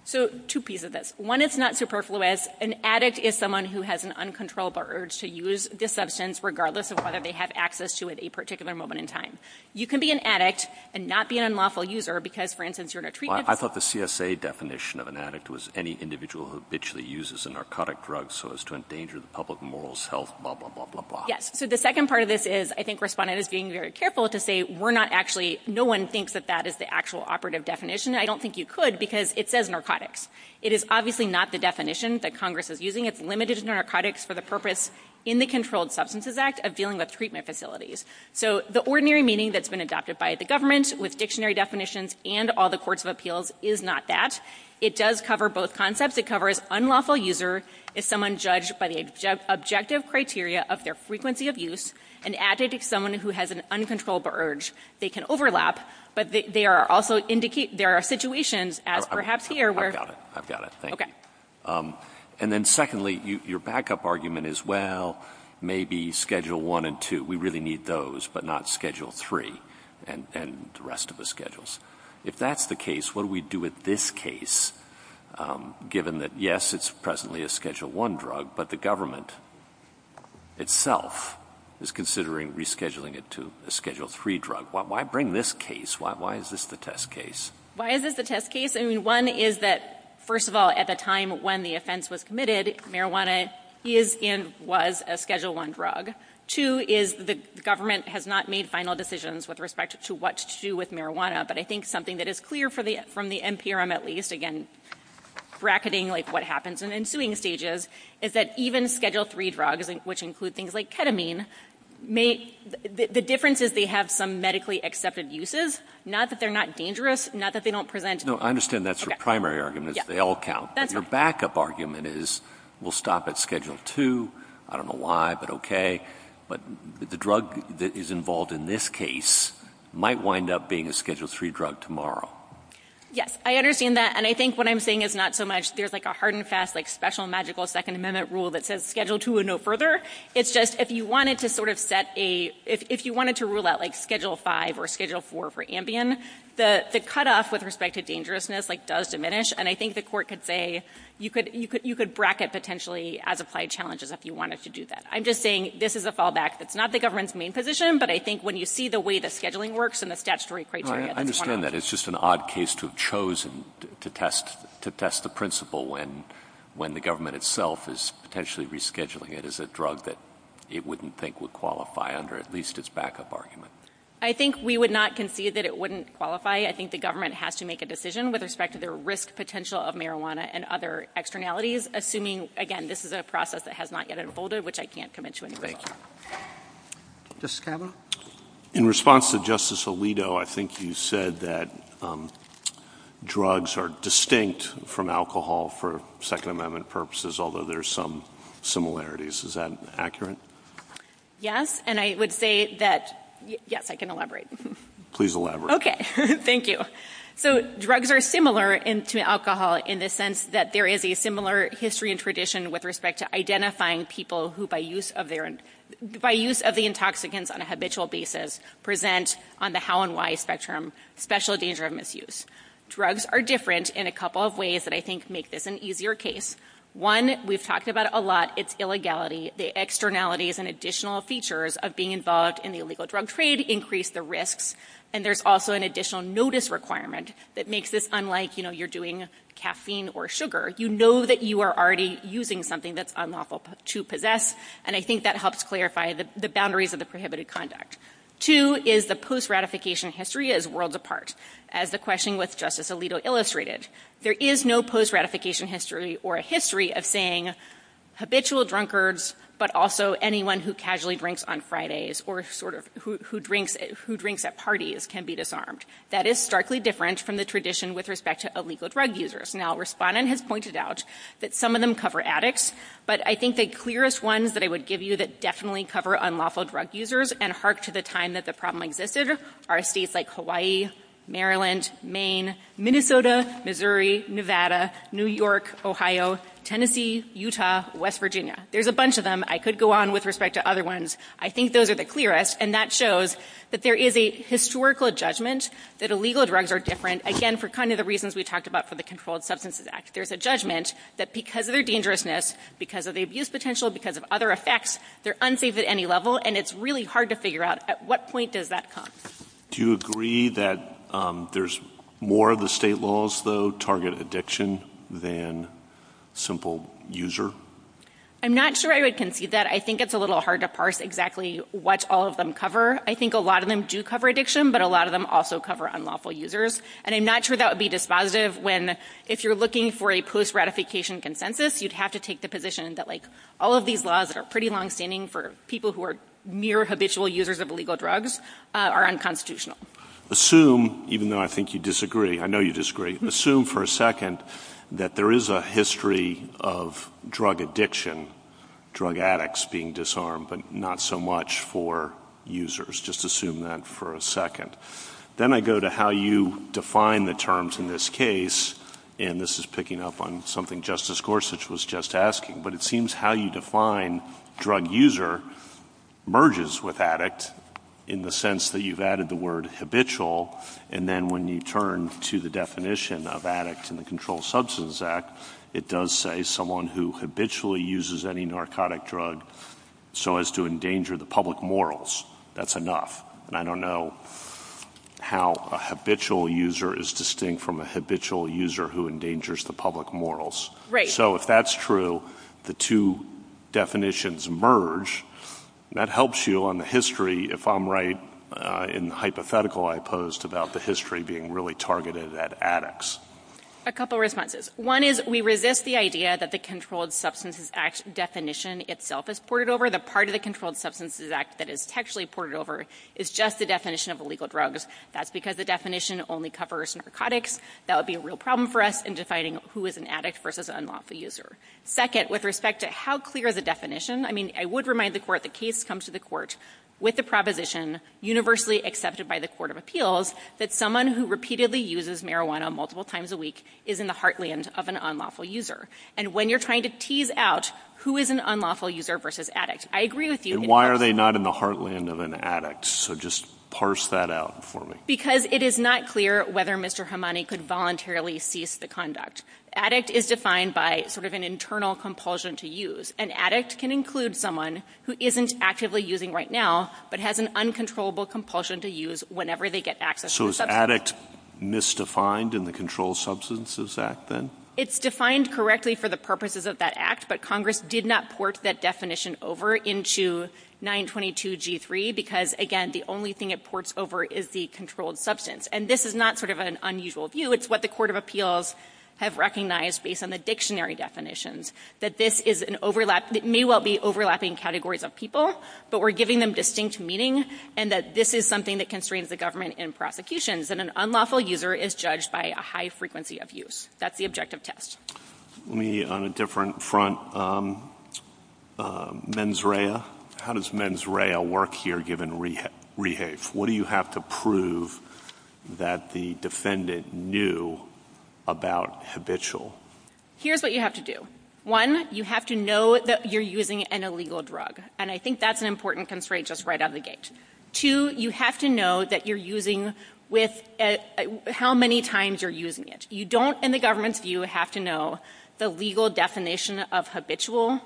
So, two pieces of this. One is not superfluous. An addict is someone who has an uncontrollable urge to use the substance regardless of whether they have access to it at a particular moment in time. You can be an addict and not be an unlawful user because, for instance, you're in a treatment I thought the CSA definition of an addict was any individual who habitually uses a narcotic drug so as to endanger the public morals, health, blah, blah, blah, blah, blah. Yes. So, the second part of this is, I think Respondent is being very careful to say we're not actually, no one thinks that that is the actual operative definition. I don't think you could because it says narcotics. It is obviously not the definition that Congress is using. It's limited to narcotics for the purpose in the Controlled Substances Act of dealing with treatment facilities. So, the ordinary meaning that's been adopted by the government with dictionary definitions and all the courts of appeals is not that. It does cover both concepts. It covers unlawful user if someone judged by the objective criteria of their frequency of use, an addict is someone who has an uncontrollable urge. They can overlap, but they are also indicate there are situations as perhaps here where I've got it. I've got it. Thank you. Okay. And then secondly, your backup argument is, well, maybe schedule one and two. We really need those, but not schedule three and the rest of the schedules. If that's the case, what do we do with this case, given that, yes, it's presently a schedule one drug, but the government itself is considering rescheduling it to a schedule three drug? Why bring this case? Why is this the test case? Why is this the test case? I mean, one is that, first of all, at the time when the offense was committed, marijuana is and was a schedule one drug. Two is the government has not made final decisions with respect to what to do with marijuana. But I think something that is clear from the NPRM, at least, again, bracketing like what happens in ensuing stages, is that even schedule three drugs, which include things like ketamine, the difference is they have some medically accepted uses. Not that they're not dangerous. Not that they don't present. No, I understand that's your primary argument is they all count, but your backup argument is we'll stop at schedule two. I don't know why, but okay. But the drug that is involved in this case might wind up being a schedule three drug tomorrow. Yes. I understand that. And I think what I'm saying is not so much there's like a hard and fast special magical Second Amendment rule that says schedule two and no further. It's just if you wanted to sort of set a, if you wanted to rule out like schedule five or schedule four for Ambien, the cutoff with respect to dangerousness does diminish. And I think the court could say you could bracket potentially as applied challenges if you wanted to do that. I'm just saying this is a fallback. It's not the government's main position, but I think when you see the way the scheduling works and the statutory criteria. I understand that. It's just an odd case to have chosen to test the principle when the government itself is potentially rescheduling it as a drug that it wouldn't think would qualify under at least its backup argument. I think we would not concede that it wouldn't qualify. I think the government has to make a decision with respect to their risk potential of marijuana and other externalities. Assuming again, this is a process that has not yet unfolded, which I can't come into any detail. Thank you. Justice Kavanaugh? In response to Justice Alito, I think you said that drugs are distinct from alcohol for Second Amendment purposes, although there's some similarities. Is that accurate? Yes. And I would say that, yes, I can elaborate. Please elaborate. Okay. Thank you. So drugs are similar to alcohol in the sense that there is a similar history and tradition with respect to identifying people who, by use of the intoxicants on a habitual basis, present on the how and why spectrum, special danger of misuse. Drugs are different in a couple of ways that I think make this an easier case. One, we've talked about a lot, it's illegality. The externalities and additional features of being involved in the illegal drug trade increase the risks. And there's also an additional notice requirement that makes this unlike, you know, you're doing caffeine or sugar. You know that you are already using something that's unlawful to possess, and I think that helps clarify the boundaries of the prohibited conduct. Two is the post-ratification history is worlds apart, as the question with Justice Alito illustrated. There is no post-ratification history or a history of saying habitual drunkards, but also anyone who casually drinks on Fridays or sort of who drinks at parties can be disarmed. That is starkly different from the tradition with respect to illegal drug users. Now Respondent has pointed out that some of them cover addicts, but I think the clearest ones that I would give you that definitely cover unlawful drug users and hark to the time that the problem existed are states like Hawaii, Maryland, Maine, Minnesota, Missouri, Nevada, New York, Ohio, Tennessee, Utah, West Virginia. There's a bunch of them. I could go on with respect to other ones. I think those are the clearest, and that shows that there is a historical judgment that illegal drugs are different, again, for kind of the reasons we talked about for the Controlled Substances Act. There's a judgment that because of their dangerousness, because of the abuse potential, because of other effects, they're unsafe at any level, and it's really hard to figure out at what point does that come. Do you agree that there's more of the state laws, though, target addiction than simple user? I'm not sure I would concede that. I think it's a little hard to parse exactly what all of them cover. I think a lot of them do cover addiction, but a lot of them also cover unlawful users, and I'm not sure that would be dispositive when, if you're looking for a post-ratification consensus, you'd have to take the position that, like, all of these laws that are pretty longstanding for people who are near habitual users of illegal drugs are unconstitutional. Assume, even though I think you disagree, I know you disagree, assume for a second that there is a history of drug addiction, drug addicts being disarmed, but not so much for users. Just assume that for a second. Then I go to how you define the terms in this case, and this is picking up on something Justice Gorsuch was just asking, but it seems how you define drug user merges with addict in the sense that you've added the word habitual, and then when you turn to the definition of addict in the Controlled Substance Act, it does say someone who habitually uses any narcotic drug so as to endanger the public morals. That's enough. And I don't know how a habitual user is distinct from a habitual user who endangers the public morals. Right. So if that's true, the two definitions merge, that helps you on the history, if I'm right, in the hypothetical I posed about the history being really targeted at addicts. A couple responses. One is we resist the idea that the Controlled Substances Act definition itself is ported over. The part of the Controlled Substances Act that is actually ported over is just the definition of illegal drugs. That's because the definition only covers narcotics. That would be a real problem for us in deciding who is an addict versus an unlawful user. Second, with respect to how clear the definition, I mean, I would remind the court, the case comes to the court with the proposition universally accepted by the Court of Appeals that someone who repeatedly uses marijuana multiple times a week is in the heartland of an unlawful user. And when you're trying to tease out who is an unlawful user versus addict, I agree with you. And why are they not in the heartland of an addict? So just parse that out for me. Because it is not clear whether Mr. Hamani could voluntarily cease the conduct. Addict is defined by sort of an internal compulsion to use. An addict can include someone who isn't actively using right now, but has an uncontrollable compulsion to use whenever they get access to something else. So is addict misdefined in the Controlled Substances Act then? It's defined correctly for the purposes of that Act, but Congress did not port that definition over into 922 G3 because, again, the only thing it ports over is the controlled substance. And this is not sort of an unusual view. It's what the Court of Appeals have recognized based on the dictionary definitions, that this is an overlap. It may well be overlapping categories of people, but we're giving them distinct meanings, and that this is something that constrains the government in prosecutions, that an unlawful user is judged by a high frequency of use. That's the objective test. Let me, on a different front, mens rea. How does mens rea work here given rehave? What do you have to prove that the defendant knew about habitual? Here's what you have to do. One, you have to know that you're using an illegal drug, and I think that's an important constraint just right out of the gate. Two, you have to know that you're using with how many times you're using it. You don't, in the government's view, have to know the legal definition of habitual,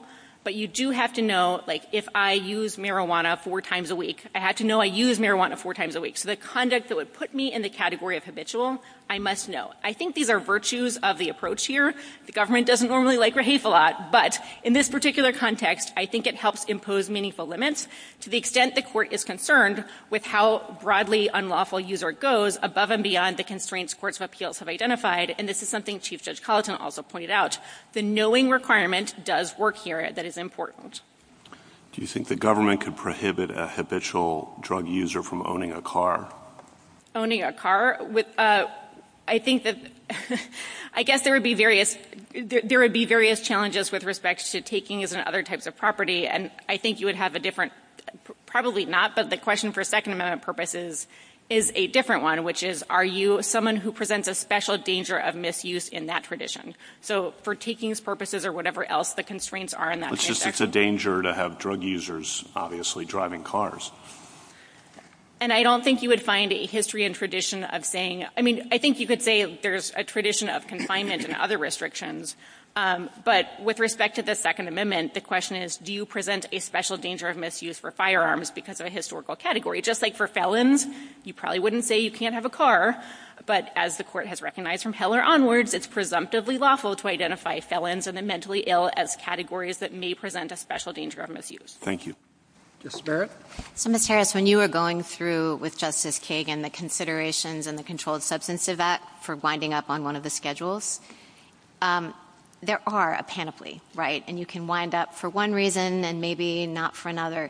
but you do have to know, like, if I use marijuana four times a week, I have to know I use marijuana four times a week. So the conduct that would put me in the category of habitual, I must know. I think these are virtues of the approach here. The government doesn't normally like rehave a lot, but in this particular context, I think it helps impose meaningful limits to the extent the court is concerned with how broadly unlawful user goes above and beyond the constraints courts of appeals have identified, and this is something Chief Judge Colleton also pointed out. The knowing requirement does work here. That is important. Do you think the government could prohibit a habitual drug user from owning a car? Owning a car? I think that, I guess there would be various challenges with respect to takings and other types of property, and I think you would have a different, probably not, but the question for a second amount of purposes is a different one, which is, are you someone who presents a special danger of misuse in that tradition? So for takings purposes or whatever else the constraints are in that context. It's just a danger to have drug users, obviously, driving cars. And I don't think you would find a history and tradition of saying, I mean, I think you could say there's a tradition of confinement and other restrictions, but with respect to the Second Amendment, the question is, do you present a special danger of misuse for firearms because of a historical category? Just like for felons, you probably wouldn't say you can't have a car, but as the court has recognized from Heller onwards, it's presumptively lawful to identify felons and the mentally ill as categories that may present a special danger of misuse. Thank you. Ms. Barrett? So, Ms. Harris, when you were going through with Justice Kagan the considerations and the controlled substance of that for winding up on one of the schedules, there are a panoply, right? And you can wind up for one reason and maybe not for another.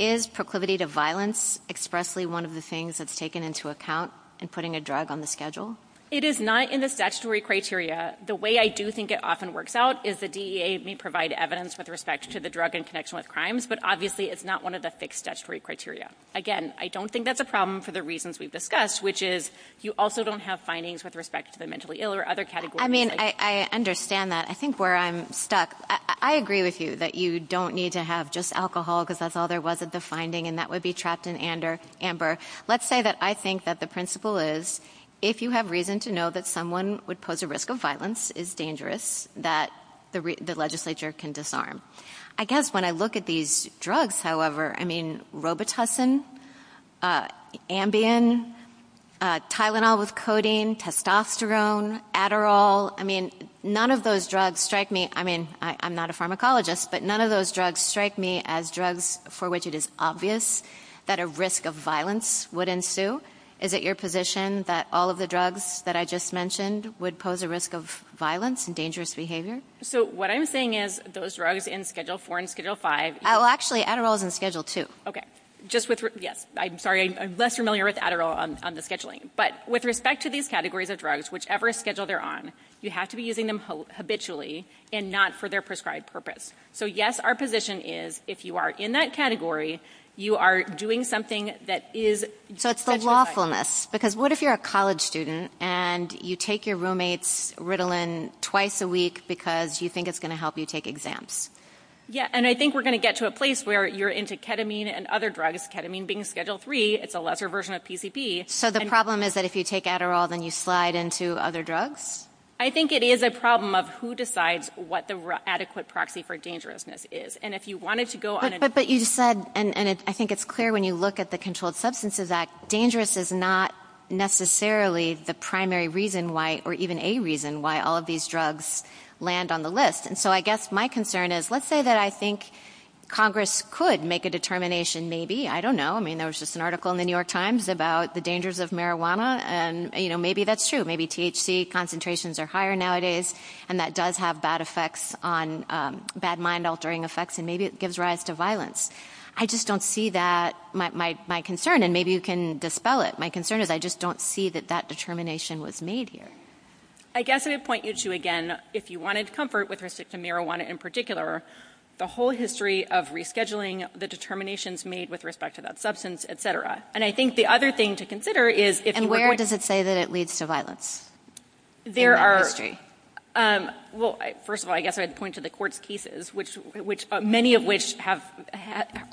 Is proclivity to violence expressly one of the things that's taken into account in putting a drug on the schedule? It is not in the statutory criteria. The way I do think it often works out is the DEA may provide evidence with respect to the drug in connection with crimes, but obviously it's not one of the fixed statutory criteria. Again, I don't think that's a problem for the reasons we've discussed, which is you also don't have findings with respect to the mentally ill or other categories. I mean, I understand that. I think where I'm stuck, I agree with you that you don't need to have just alcohol because that's all there was at the finding and that would be trapped in amber. Let's say that I think that the principle is if you have reason to know that someone would pose a risk of violence is dangerous, that the legislature can disarm. I guess when I look at these drugs, however, I mean, robitussin, Ambien, Tylenol with codeine, testosterone, Adderall, I mean, none of those drugs strike me, I mean, I'm not a pharmacologist, but none of those drugs strike me as drugs for which it is obvious that a risk of violence would ensue. Is it your position that all of the drugs that I just mentioned would pose a risk of violence and dangerous behavior? So what I'm saying is those drugs in Schedule 4 and Schedule 5... Oh, actually, Adderall is in Schedule 2. Okay. Just with... Yes. I'm sorry. I'm less familiar with Adderall on the scheduling, but with respect to these categories of drugs, whichever schedule they're on, you have to be using them habitually and not for their prescribed purpose. So yes, our position is if you are in that category, you are doing something that is... So it's the lawfulness because what if you're a college student and you take your roommate's Ritalin twice a week because you think it's going to help you take exams? Yes. And I think we're going to get to a place where you're into ketamine and other drugs, ketamine being Schedule 3, it's a lesser version of PCP. So the problem is that if you take Adderall, then you slide into other drugs? I think it is a problem of who decides what the adequate proxy for dangerousness is. And if you wanted to go on... But you said, and I think it's clear when you look at the Controlled Substances Act, dangerous is not necessarily the primary reason why, or even a reason why all of these drugs land on the list. And so I guess my concern is, let's say that I think Congress could make a determination maybe, I don't know, I mean, there was just an article in the New York Times about the dangers of marijuana, and maybe that's true. Maybe THC concentrations are higher nowadays, and that does have bad effects on, bad mind altering effects, and maybe it gives rise to violence. I just don't see that, my concern, and maybe you can dispel it, my concern is I just don't see that that determination was made here. I guess I would point you to, again, if you wanted comfort with respect to marijuana in particular, the whole history of rescheduling, the determinations made with respect to that substance, et cetera. And I think the other thing to consider is... And where does it say that it leads to violence? There are... In the history. Well, first of all, I guess I'd point to the court's cases, many of which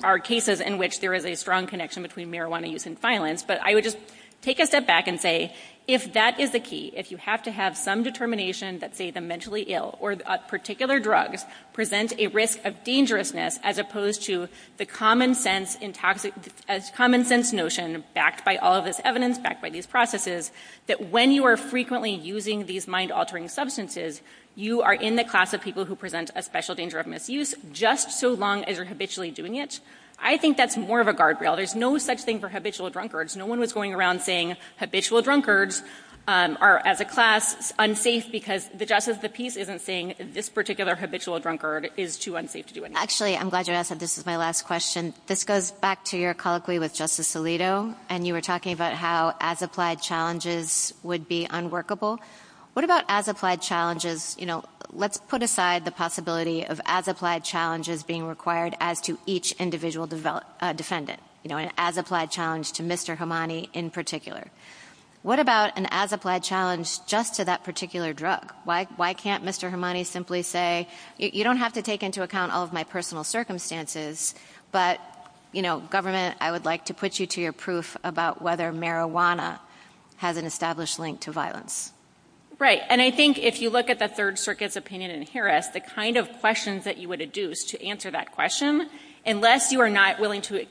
are cases in which there is a strong connection between marijuana use and violence, but I would just take a step back and say, if that is the key, if you have to have some determination that, say, the mentally ill or particular drugs present a risk of dangerousness as opposed to the common sense notion, backed by all of this evidence, backed by these processes, that when you are frequently using these mind-altering substances, you are in the class of people who present a special danger of misuse, just so long as you're habitually doing it. I think that's more of a guardrail. There's no such thing for habitual drunkards. No one was going around saying habitual drunkards are, as a class, unsafe because the justice of the peace isn't saying this particular habitual drunkard is too unsafe to do anything. Actually, I'm glad you asked that. This is my last question. This goes back to your colloquy with Justice Alito, and you were talking about how as applied challenges would be unworkable. What about as applied challenges? Let's put aside the possibility of as applied challenges being required as to each individual defendant, an as applied challenge to Mr. Hamani in particular. What about an as applied challenge just to that particular drug? Why can't Mr. Hamani simply say, you don't have to take into account all of my personal circumstances, but, you know, government, I would like to put you to your proof about whether marijuana has an established link to violence? Right. And I think if you look at the Third Circuit's opinion in Harris, the kind of questions that you would adduce to answer that question, unless you are not willing to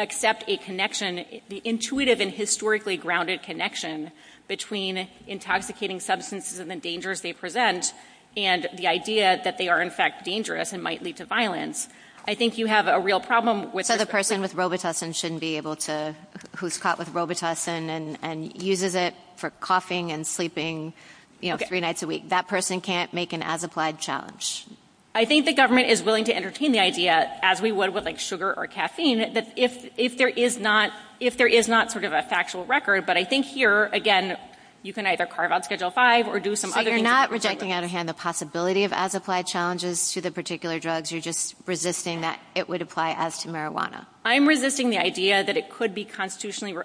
accept a connection, the intuitive and historically grounded connection between intoxicating substances and the dangers they present, and the idea that they are in fact dangerous and might lead to violence, I think you have a real problem with that. The person with robitussin shouldn't be able to, who's caught with robitussin and uses it for coughing and sleeping, you know, three nights a week. That person can't make an as applied challenge. I think the government is willing to entertain the idea, as we would with like sugar or caffeine, that if there is not, if there is not sort of a factual record, but I think here, again, you can either carve out Schedule 5 or do some other things. But you're not rejecting out of hand the possibility of as applied challenges to the particular drugs, you're just resisting that it would apply as to marijuana. I'm resisting the idea that it could be constitutionally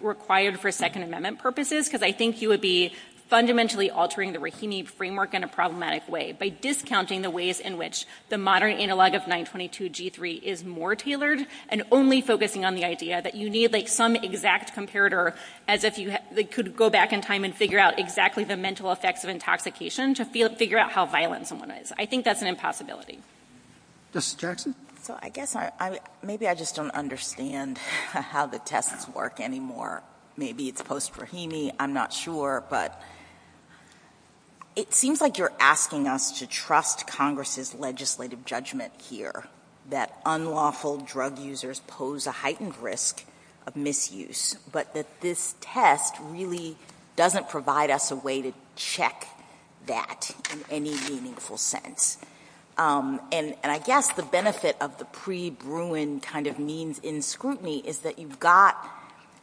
required for Second Amendment purposes, because I think you would be fundamentally altering the Rahimi framework in a problematic way by discounting the ways in which the modern analog of 922G3 is more tailored, and only focusing on the idea that you need like some exact comparator as if you could go back in time and figure out exactly the mental effects of intoxication to figure out how violent someone is. I think that's an impossibility. Dr. Jackson? Well, I guess I, maybe I just don't understand how the tests work anymore. Maybe it's post-Rahimi, I'm not sure, but it seems like you're asking us to trust Congress's legislative judgment here, that unlawful drug users pose a heightened risk of misuse, but that this test really doesn't provide us a way to check that in any meaningful sense. And I guess the benefit of the pre-Bruin kind of means in scrutiny is that you've got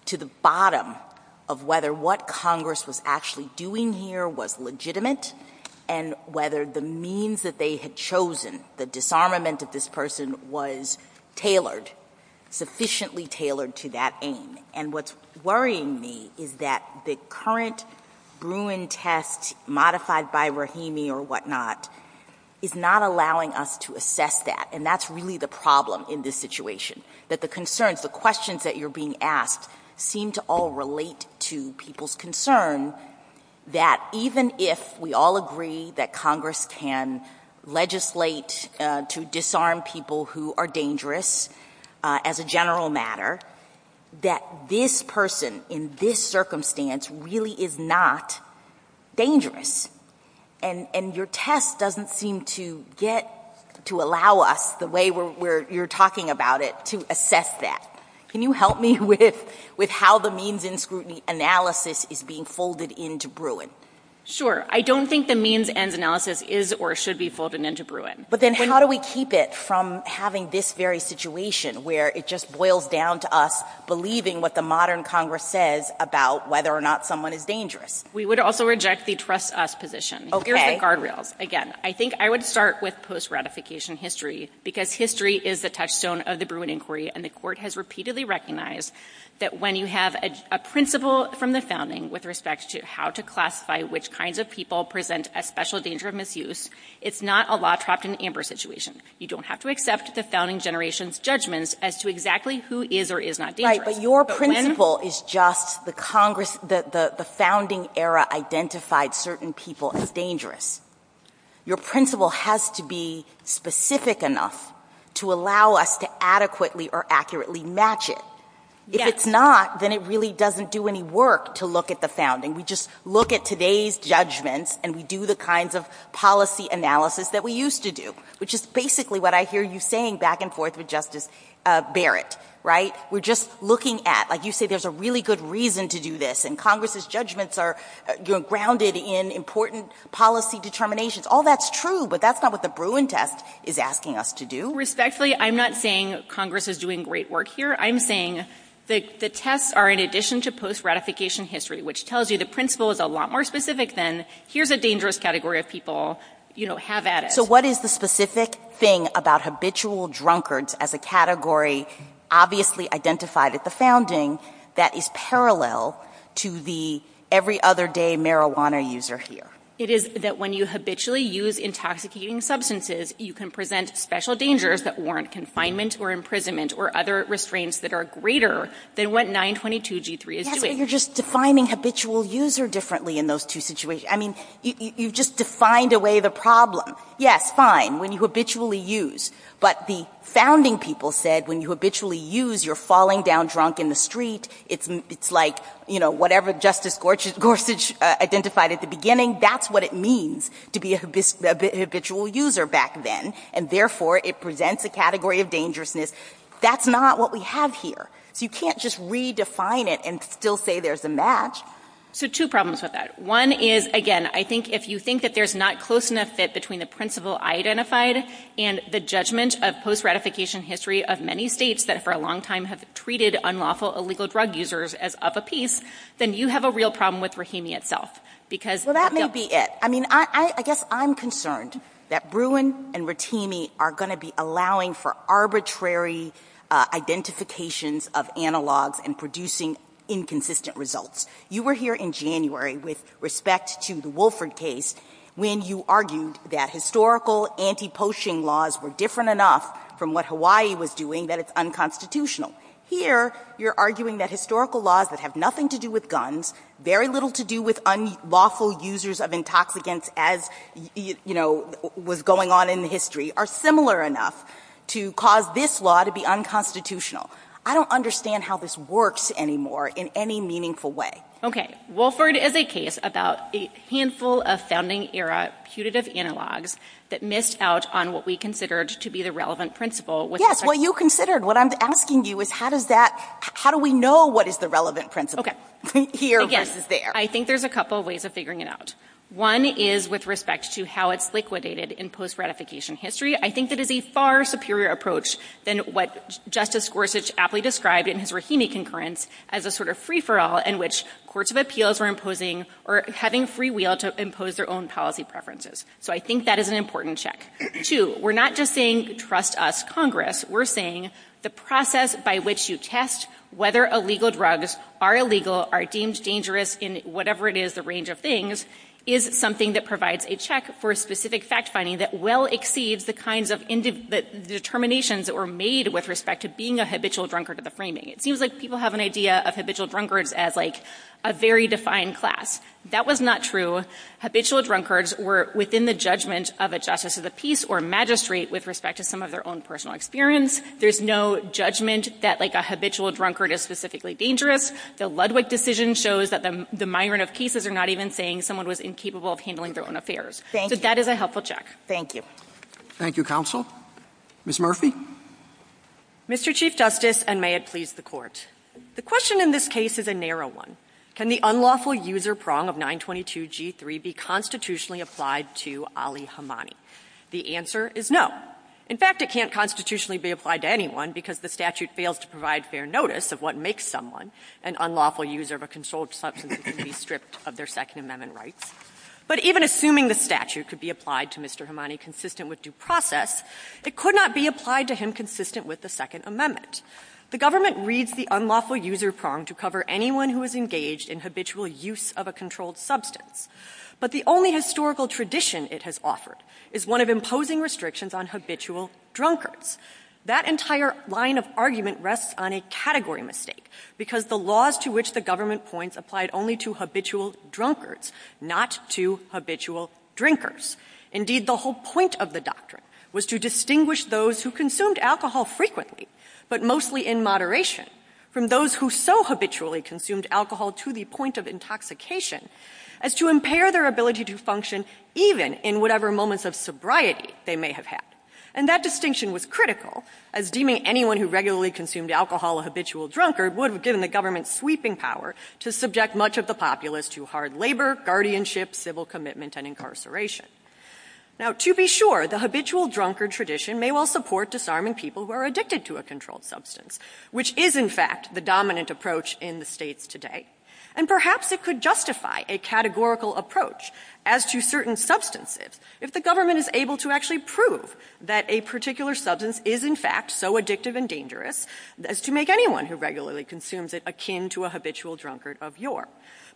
to the bottom of whether what Congress was actually doing here was legitimate, and whether the means that they had chosen, the disarmament of this person was tailored, sufficiently tailored to that aim. And what's worrying me is that the current Bruin test modified by Rahimi or whatnot is not allowing us to assess that, and that's really the problem in this situation, that the concerns, the questions that you're being asked seem to all relate to people's concern that even if we all agree that Congress can legislate to disarm people who are dangerous as a general matter, that this person in this circumstance really is not dangerous. And your test doesn't seem to get to allow us the way you're talking about it to assess that. Can you help me with how the means in scrutiny analysis is being folded into Bruin? Sure. I don't think the means and analysis is or should be folded into Bruin. But then how do we keep it from having this very situation where it just boils down to us believing what the modern Congress says about whether or not someone is dangerous? We would also reject the trust us position. Okay. Here's the guardrails again. I think I would start with post-ratification history because history is the touchstone of the Bruin inquiry, and the court has repeatedly recognized that when you have a principle from the founding with respect to how to classify which kinds of people present a special danger of misuse, it's not a law trapped in an amber situation. You don't have to accept the founding generation's judgments as to exactly who is or is not dangerous. Right. But your principle is just the founding era identified certain people as dangerous. Your principle has to be specific enough to allow us to adequately or accurately match it. Yes. If it's not, then it really doesn't do any work to look at the founding. We just look at today's judgments, and we do the kinds of policy analysis that we used to do, which is basically what I hear you saying back and forth with Justice Barrett. Right? We're just looking at, like you say, there's a really good reason to do this, and Congress's judgments are grounded in important policy determinations. All that's true, but that's not what the Bruin test is asking us to do. Respectfully, I'm not saying Congress is doing great work here. I'm saying the tests are in addition to post-ratification history, which tells you the principle is a lot more specific than, here's a dangerous category of people, have at it. What is the specific thing about habitual drunkards as a category, obviously identified at the founding, that is parallel to the every other day marijuana user here? It is that when you habitually use intoxicating substances, you can present special dangers that warrant confinement or imprisonment or other restraints that are greater than what 922 G3 is doing. Yes, but you're just defining habitual user differently in those two situations. I mean, you've just defined away the problem. Yes, fine, when you habitually use, but the founding people said when you habitually use, you're falling down drunk in the street. It's like whatever Justice Gorsuch identified at the beginning, that's what it means to be a habitual user back then, and therefore it presents a category of dangerousness. That's not what we have here. You can't just redefine it and still say there's a match. So two problems with that. One is, again, I think if you think that there's not close enough fit between the principle identified and the judgment of post-ratification history of many states that for a long time have treated unlawful, illegal drug users as of a piece, then you have a real problem with Rahimi itself. Well, that may be it. I mean, I guess I'm concerned that Bruin and Rahimi are going to be allowing for arbitrary identifications of analogs and producing inconsistent results. You were here in January with respect to the Wolford case when you argued that historical anti-poaching laws were different enough from what Hawaii was doing that it's unconstitutional. Here you're arguing that historical laws that have nothing to do with guns, very little to do with unlawful users of intoxicants as, you know, was going on in the history, are similar enough to cause this law to be unconstitutional. I don't understand how this works anymore in any meaningful way. Okay. Wolford is a case about a handful of founding-era putative analogs that missed out on what we considered to be the relevant principle. Yes. Well, you considered. What I'm asking you is how does that, how do we know what is the relevant principle here versus there? I think there's a couple of ways of figuring it out. One is with respect to how it's liquidated in post-ratification history. I think that it is a far superior approach than what Justice Gorsuch aptly described in his Rahimi concurrence as a sort of free-for-all in which courts of appeals are imposing or having free will to impose their own policy preferences. So I think that is an important check. Two, we're not just saying trust us, Congress. We're saying the process by which you test whether illegal drugs are illegal are deemed dangerous in whatever it is, a range of things, is something that provides a check for specific fact-finding that well exceeds the kinds of determinations that were made with respect to being a habitual drunkard of the framing. It seems like people have an idea of habitual drunkards as like a very defined class. That was not true. Habitual drunkards were within the judgment of a justice of the peace or magistrate with respect to some of their own personal experience. There's no judgment that like a habitual drunkard is specifically dangerous. The Ludwig decision shows that the migrant of cases are not even saying someone was incapable of handling their own affairs. Thank you. So that is a helpful check. Thank you. Thank you, Counsel. Ms. Murphy? Mr. Chief Justice, and may it please the Court, the question in this case is a narrow one. Can the unlawful user prong of 922G3 be constitutionally applied to Ali Hammani? The answer is no. In fact, it can't constitutionally be applied to anyone because the statute fails to provide fair notice of what makes someone an unlawful user of a controlled substance to be stripped of their Second Amendment rights. But even assuming the statute could be applied to Mr. Hammani consistent with due process, it could not be applied to him consistent with the Second Amendment. The government reads the unlawful user prong to cover anyone who is engaged in habitual use of a controlled substance. But the only historical tradition it has offered is one of imposing restrictions on habitual drunkards. That entire line of argument rests on a category mistake because the laws to which the government points applied only to habitual drunkards, not to habitual drinkers. Indeed, the whole point of the doctrine was to distinguish those who consumed alcohol frequently, but mostly in moderation, from those who so habitually consumed alcohol to the point of intoxication as to impair their ability to function even in whatever moments of sobriety they may have had. And that distinction was critical, as deeming anyone who regularly consumed alcohol a habitual drunkard would have given the government sweeping power to subject much of the populace to hard labor, guardianship, civil commitment, and incarceration. Now to be sure, the habitual drunkard tradition may well support disarming people who are addicted to a controlled substance, which is in fact the dominant approach in the states today. And perhaps it could justify a categorical approach as to certain substances if the government is able to actually prove that a particular substance is in fact so addictive and dangerous as to make anyone who regularly consumes it akin to a habitual drunkard of yore.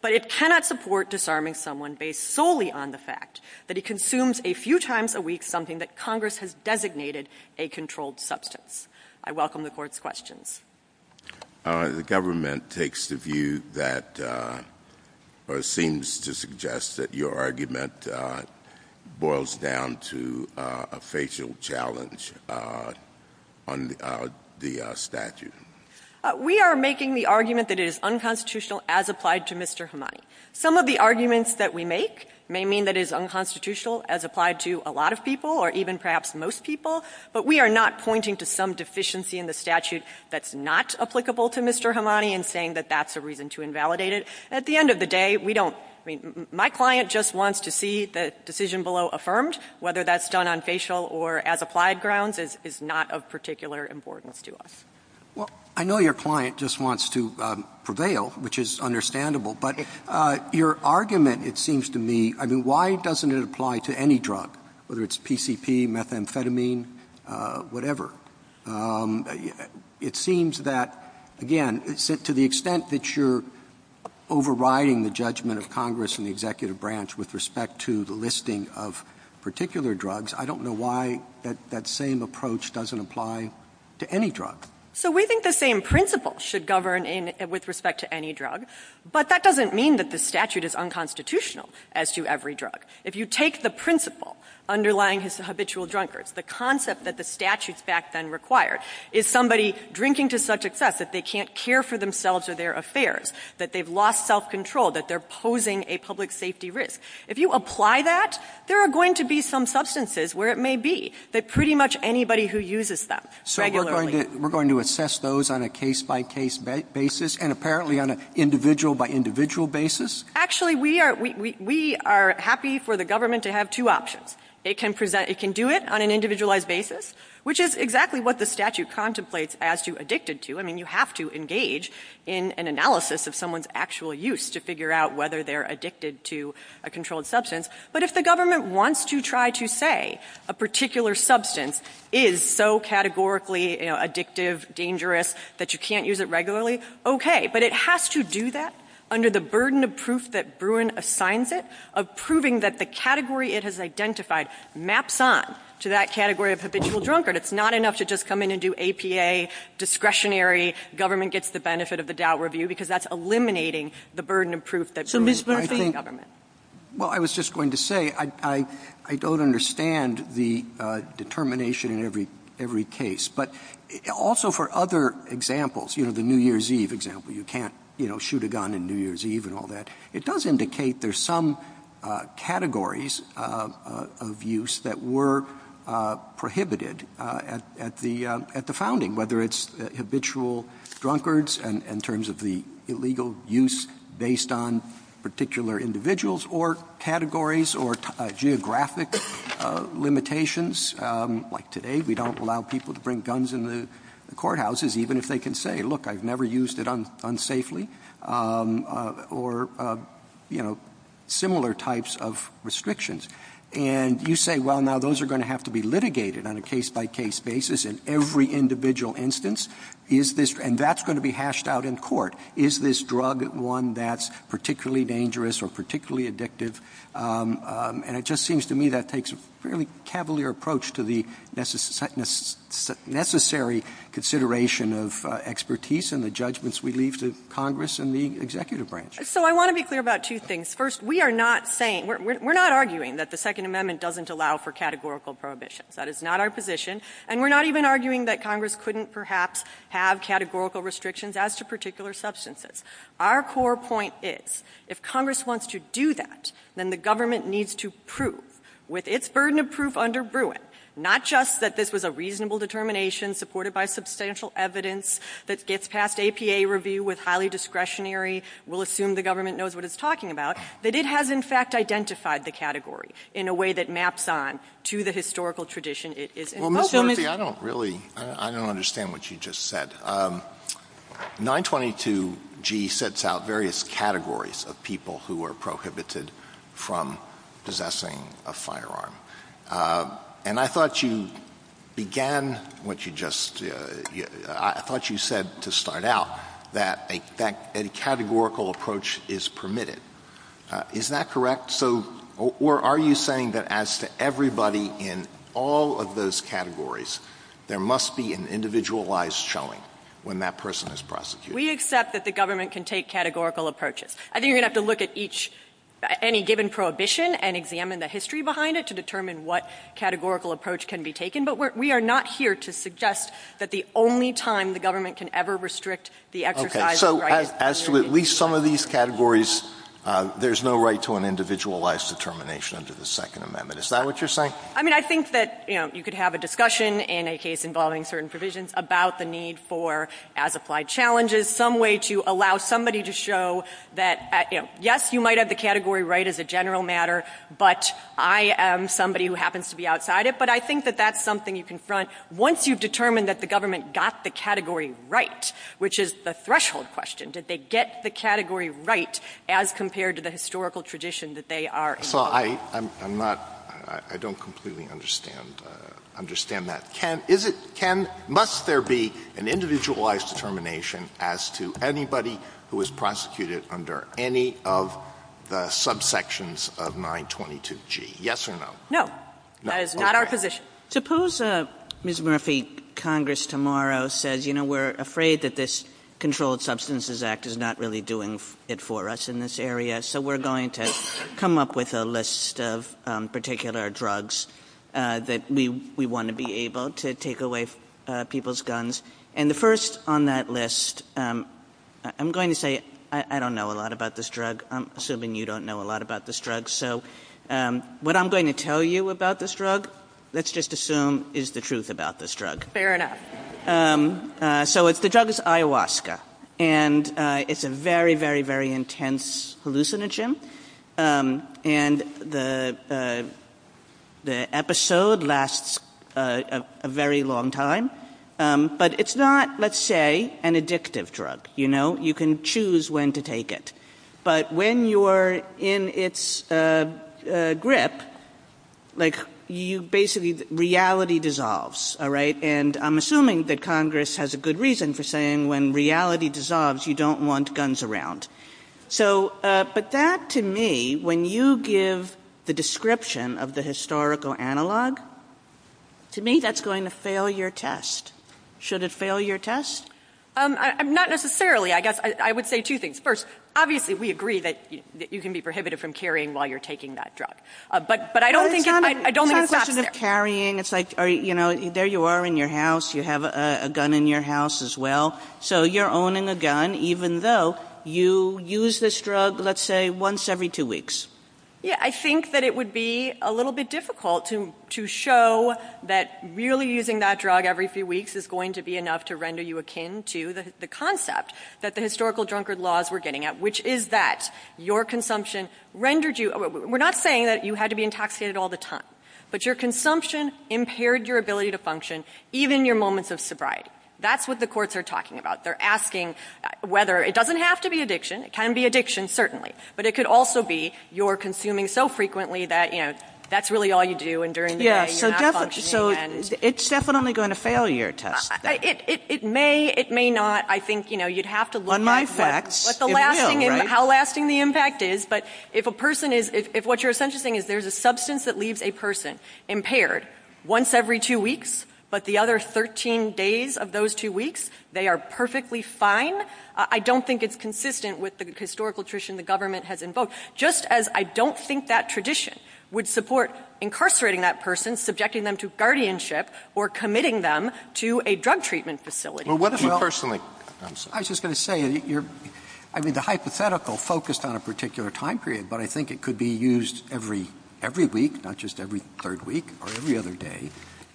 But it cannot support disarming someone based solely on the fact that he consumes a few times a week something that Congress has designated a controlled substance. I welcome the Court's questions. The government takes the view that, or seems to suggest that your argument boils down to a facial challenge on the statute. We are making the argument that it is unconstitutional as applied to Mr. Hamani. Some of the arguments that we make may mean that it is unconstitutional as applied to a lot of people or even perhaps most people, but we are not pointing to some deficiency in the statute that's not applicable to Mr. Hamani and saying that that's a reason to invalidate it. At the end of the day, we don't, I mean, my client just wants to see the decision below affirmed, whether that's done on facial or as applied grounds is not of particular importance to us. Well, I know your client just wants to prevail, which is understandable, but your argument, it seems to me, I mean, why doesn't it apply to any drug, whether it's PCP, methamphetamine, whatever? It seems that, again, to the extent that you're overriding the judgment of Congress and the executive branch with respect to the listing of particular drugs, I don't know why that same approach doesn't apply to any drug. So we think the same principle should govern with respect to any drug, but that doesn't mean that the statute is unconstitutional as to every drug. If you take the principle underlying habitual drunkards, the concept that the statute back then required, is somebody drinking to such excess that they can't care for themselves or their affairs, that they've lost self-control, that they're posing a public safety risk, if you apply that, there are going to be some substances where it may be that pretty much anybody who uses them regularly. So we're going to assess those on a case-by-case basis and apparently on an individual-by-individual basis? Actually, we are happy for the government to have two options. It can do it on an individualized basis, which is exactly what the statute contemplates as to addicted to. I mean, you have to engage in an analysis of someone's actual use to figure out whether they're addicted to a controlled substance. But if the government wants to try to say a particular substance is so categorically addictive, dangerous, that you can't use it regularly, okay. But it has to do that under the burden of proof that Bruin assigns it, of proving that the category it has identified maps on to that category of habitual drunkard. It's not enough to just come in and do APA, discretionary, government gets the benefit of the doubt review, because that's eliminating the burden of proof that Bruin provides to the government. Well, I was just going to say, I don't understand the determination in every case. But also for other examples, you know, the New Year's Eve example, you can't, you know, shoot a gun in New Year's Eve and all that. It does indicate there's some categories of use that were prohibited at the founding, whether it's habitual drunkards in terms of the illegal use based on particular individuals or categories or geographic limitations. Like today, we don't allow people to bring guns in the courthouses, even if they can say, look, I've never used it unsafely. Or, you know, similar types of restrictions. And you say, well, now those are going to have to be litigated on a case-by-case basis in every individual instance. And that's going to be hashed out in court. Is this drug one that's particularly dangerous or particularly addictive? And it just seems to me that takes a fairly cavalier approach to the necessary consideration of expertise and the judgments we leave to Congress and the executive branch. So I want to be clear about two things. First, we are not saying, we're not arguing that the Second Amendment doesn't allow for categorical prohibitions. That is not our position. And we're not even arguing that Congress couldn't perhaps have categorical restrictions as to particular substances. Our core point is, if Congress wants to do that, then the government needs to prove, with its burden of proof under Bruin, not just that this was a reasonable determination supported by substantial evidence that gets past APA review with highly discretionary we'll assume the government knows what it's talking about, that it has in fact identified the category in a way that maps on to the historical tradition it is in. Well, Ms. Murphy, I don't really understand what you just said. 922G sets out various categories of people who are prohibited from possessing a firearm. And I thought you began what you just – I thought you said to start out that a categorical approach is permitted. Is that correct? Or are you saying that as to everybody in all of those categories, there must be an individualized showing when that person is prosecuted? We accept that the government can take categorical approaches. I think you're going to have to look at each – any given prohibition and examine the history behind it to determine what categorical approach can be taken. But we are not here to suggest that the only time the government can ever restrict the exercise of the right – So as to at least some of these categories, there's no right to an individualized determination under the Second Amendment. Is that what you're saying? I mean, I think that, you know, you could have a discussion in a case involving certain provisions about the need for, as applied challenges, some way to allow somebody to show that, yes, you might have the category right as a general matter, but I am somebody who happens to be outside it. But I think that that's something you confront once you've determined that the government got the category right, which is the threshold question. Did they get the category right as compared to the historical tradition that they are in? Well, I'm not – I don't completely understand that. Can – is it – can – must there be an individualized determination as to anybody who is prosecuted under any of the subsections of 922G? Yes or no? No. That is not our position. Well, suppose Ms. Murphy, Congress tomorrow says, you know, we're afraid that this Controlled Substances Act is not really doing it for us in this area, so we're going to come up with a list of particular drugs that we want to be able to take away people's guns. And the first on that list – I'm going to say I don't know a lot about this drug. I'm assuming you don't know a lot about this drug. So what I'm going to tell you about this drug, let's just assume is the truth about this drug. So it's – the drug is ayahuasca, and it's a very, very, very intense hallucinogen. And the episode lasts a very long time. But it's not, let's say, an addictive drug, you know. You can choose when to take it. But when you are in its grip, like, you basically – reality dissolves, all right? And I'm assuming that Congress has a good reason for saying when reality dissolves, you don't want guns around. So – but that, to me, when you give the description of the historical analog, to me, that's going to fail your test. Should it fail your test? Not necessarily, I guess. I would say two things. First, obviously, we agree that you can be prohibited from carrying while you're taking that drug. But I don't think – I don't think that's fair. I don't have a question of carrying. It's like, you know, there you are in your house. You have a gun in your house as well. So you're owning a gun even though you use this drug, let's say, once every two weeks. Yeah, I think that it would be a little bit difficult to show that really using that drug every few weeks is going to be enough to render you akin to the concept that the historical drunkard laws were getting at, which is that your consumption rendered you – we're not saying that you had to be intoxicated all the time. But your consumption impaired your ability to function, even your moments of sobriety. That's what the courts are talking about. They're asking whether – it doesn't have to be addiction. It can be addiction, certainly. But it could also be you're consuming so frequently that, you know, that's really all you do and during the day you're not functioning again. So it's definitely going to fail your test. It may, it may not. But I think, you know, you'd have to look at how lasting the impact is. But if a person is – if what you're essentially saying is there's a substance that leaves a person impaired once every two weeks, but the other 13 days of those two weeks they are perfectly fine, I don't think it's consistent with the historical tradition the government has invoked, just as I don't think that tradition would support incarcerating that person, subjecting them to guardianship, or committing them to a drug treatment facility. Well, what if you personally – I was just going to say, I mean, the hypothetical focused on a particular time period, but I think it could be used every week, not just every third week or every other day.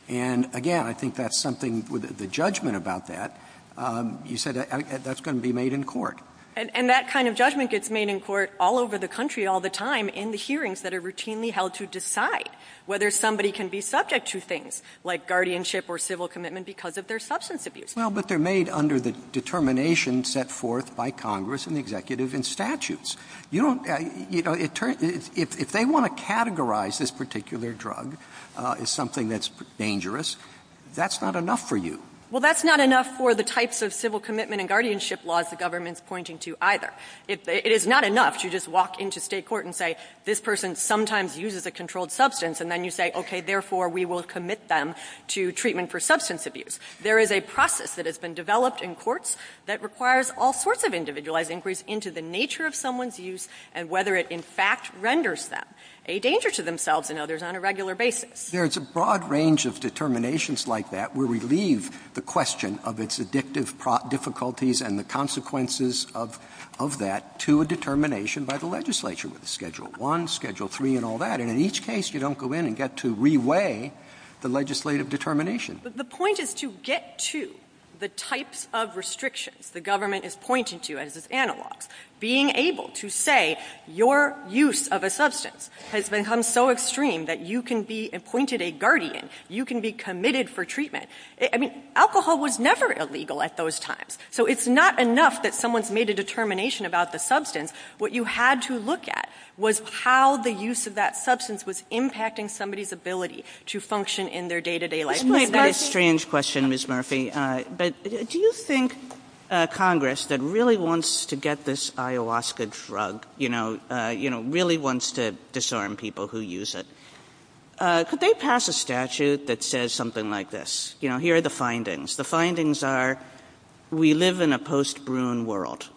And, again, I think that's something with the judgment about that. You said that's going to be made in court. And that kind of judgment gets made in court all over the country all the time in the hearings that are routinely held to decide whether somebody can be subject to things like guardianship or civil commitment because of their substance abuse. Well, but they're made under the determination set forth by Congress and the executive in statutes. You know, if they want to categorize this particular drug as something that's dangerous, that's not enough for you. Well, that's not enough for the types of civil commitment and guardianship laws the government's pointing to either. It is not enough to just walk into state court and say, this person sometimes uses a controlled substance, and then you say, okay, therefore we will commit them to treatment for substance abuse. There is a process that has been developed in courts that requires all sorts of individualized inquiries into the nature of someone's use and whether it in fact renders them a danger to themselves and others on a regular basis. There is a broad range of determinations like that where we leave the question of its addictive difficulties and the consequences of that to a determination by the legislature with Schedule I, Schedule III, and all that. And in each case, you don't go in and get to reweigh the legislative determination. But the point is to get to the types of restrictions the government is pointing to as its analog. Being able to say your use of a substance has become so extreme that you can be appointed a guardian, you can be committed for treatment. I mean, alcohol was never illegal at those times. So it's not enough that someone's made a determination about the substance. What you had to look at was how the use of that substance was impacting somebody's ability to function in their day-to-day life. It might be a strange question, Ms. Murphy, but do you think Congress that really wants to get this ayahuasca drug, you know, really wants to disarm people who use it, could they pass a statute that says something like this? You know, here are the findings. The findings are we live in a post-Bruin world.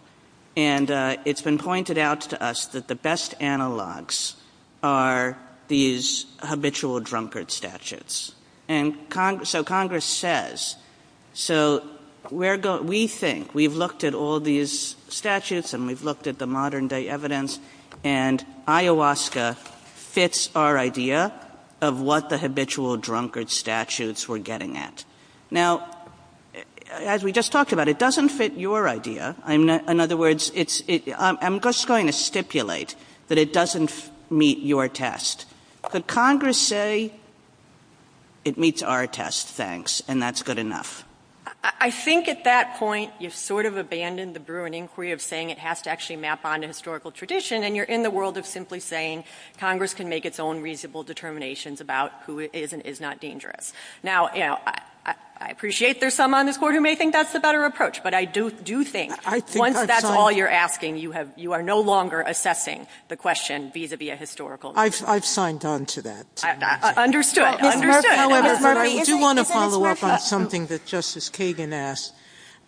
And it's been pointed out to us that the best analogs are these habitual drunkard statutes. So Congress says, so we think we've looked at all these statutes and we've looked at the modern-day evidence, and ayahuasca fits our idea of what the habitual drunkard statutes we're getting at. Now, as we just talked about, it doesn't fit your idea. In other words, I'm just going to stipulate that it doesn't meet your test. But Congress say it meets our test, thanks, and that's good enough. I think at that point you've sort of abandoned the Bruin inquiry of saying it has to actually map onto historical tradition, and you're in the world of simply saying Congress can make its own reasonable determinations about who is and is not dangerous. Now, I appreciate there's some on this Court who may think that's the better approach, but I do think once that's all you're asking, you are no longer assessing the question vis-à-vis a historical matter. I've signed on to that. Understood. I do want to follow up on something that Justice Kagan asked.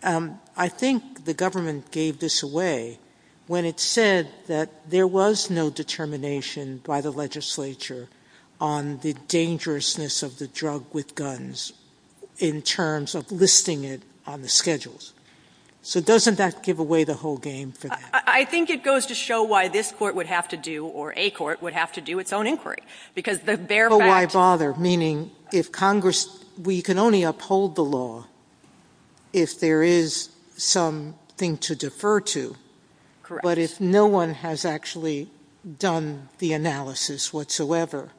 I think the government gave this away when it said that there was no determination by the legislature on the dangerousness of the drug with guns in terms of listing it on the schedules. So doesn't that give away the whole game? I think it goes to show why this Court would have to do, or a court, would have to do its own inquiry. Because the bare fact... But why bother? Meaning if Congress, we can only uphold the law if there is something to defer to. Correct. But if no one has actually done the analysis whatsoever.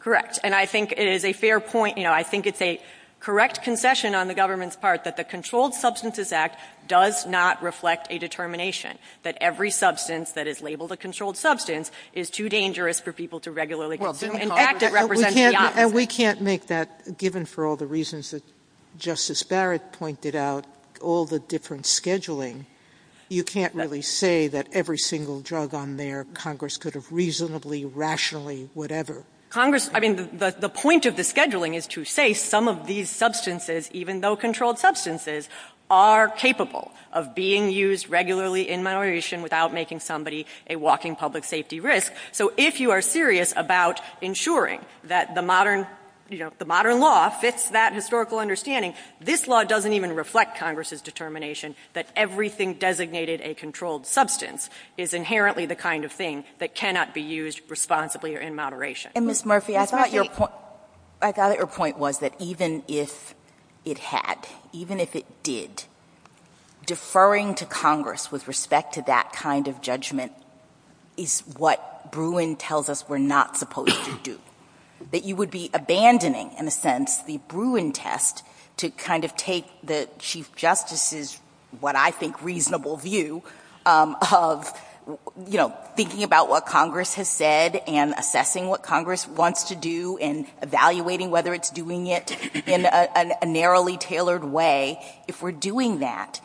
Correct. And I think it is a fair point. I think it's a correct concession on the government's part that the Controlled Substances Act does not reflect a determination that every substance that is labeled a controlled substance is too dangerous for people to regularly consume. In fact, it represents the opposite. And we can't make that, given for all the reasons that Justice Barrett pointed out, all the different scheduling. You can't really say that every single drug on there, Congress could have reasonably, rationally, whatever. Congress, I mean, the point of the scheduling is to say some of these substances, even though controlled substances, are capable of being used regularly in moderation without making somebody a walking public safety risk. So if you are serious about ensuring that the modern law fits that historical understanding, this law doesn't even reflect Congress's determination that everything designated a controlled substance is inherently the kind of thing that cannot be used responsibly or in moderation. And, Ms. Murphy, I thought your point was that even if it had, even if it did, deferring to Congress with respect to that kind of judgment is what Bruin tells us we're not supposed to do, that you would be abandoning, in a sense, the Bruin test to kind of take the Chief Justice's, what I think, reasonable view of, you know, thinking about what Congress has said and assessing what Congress wants to do and evaluating whether it's doing it in a narrowly tailored way. If we're doing that,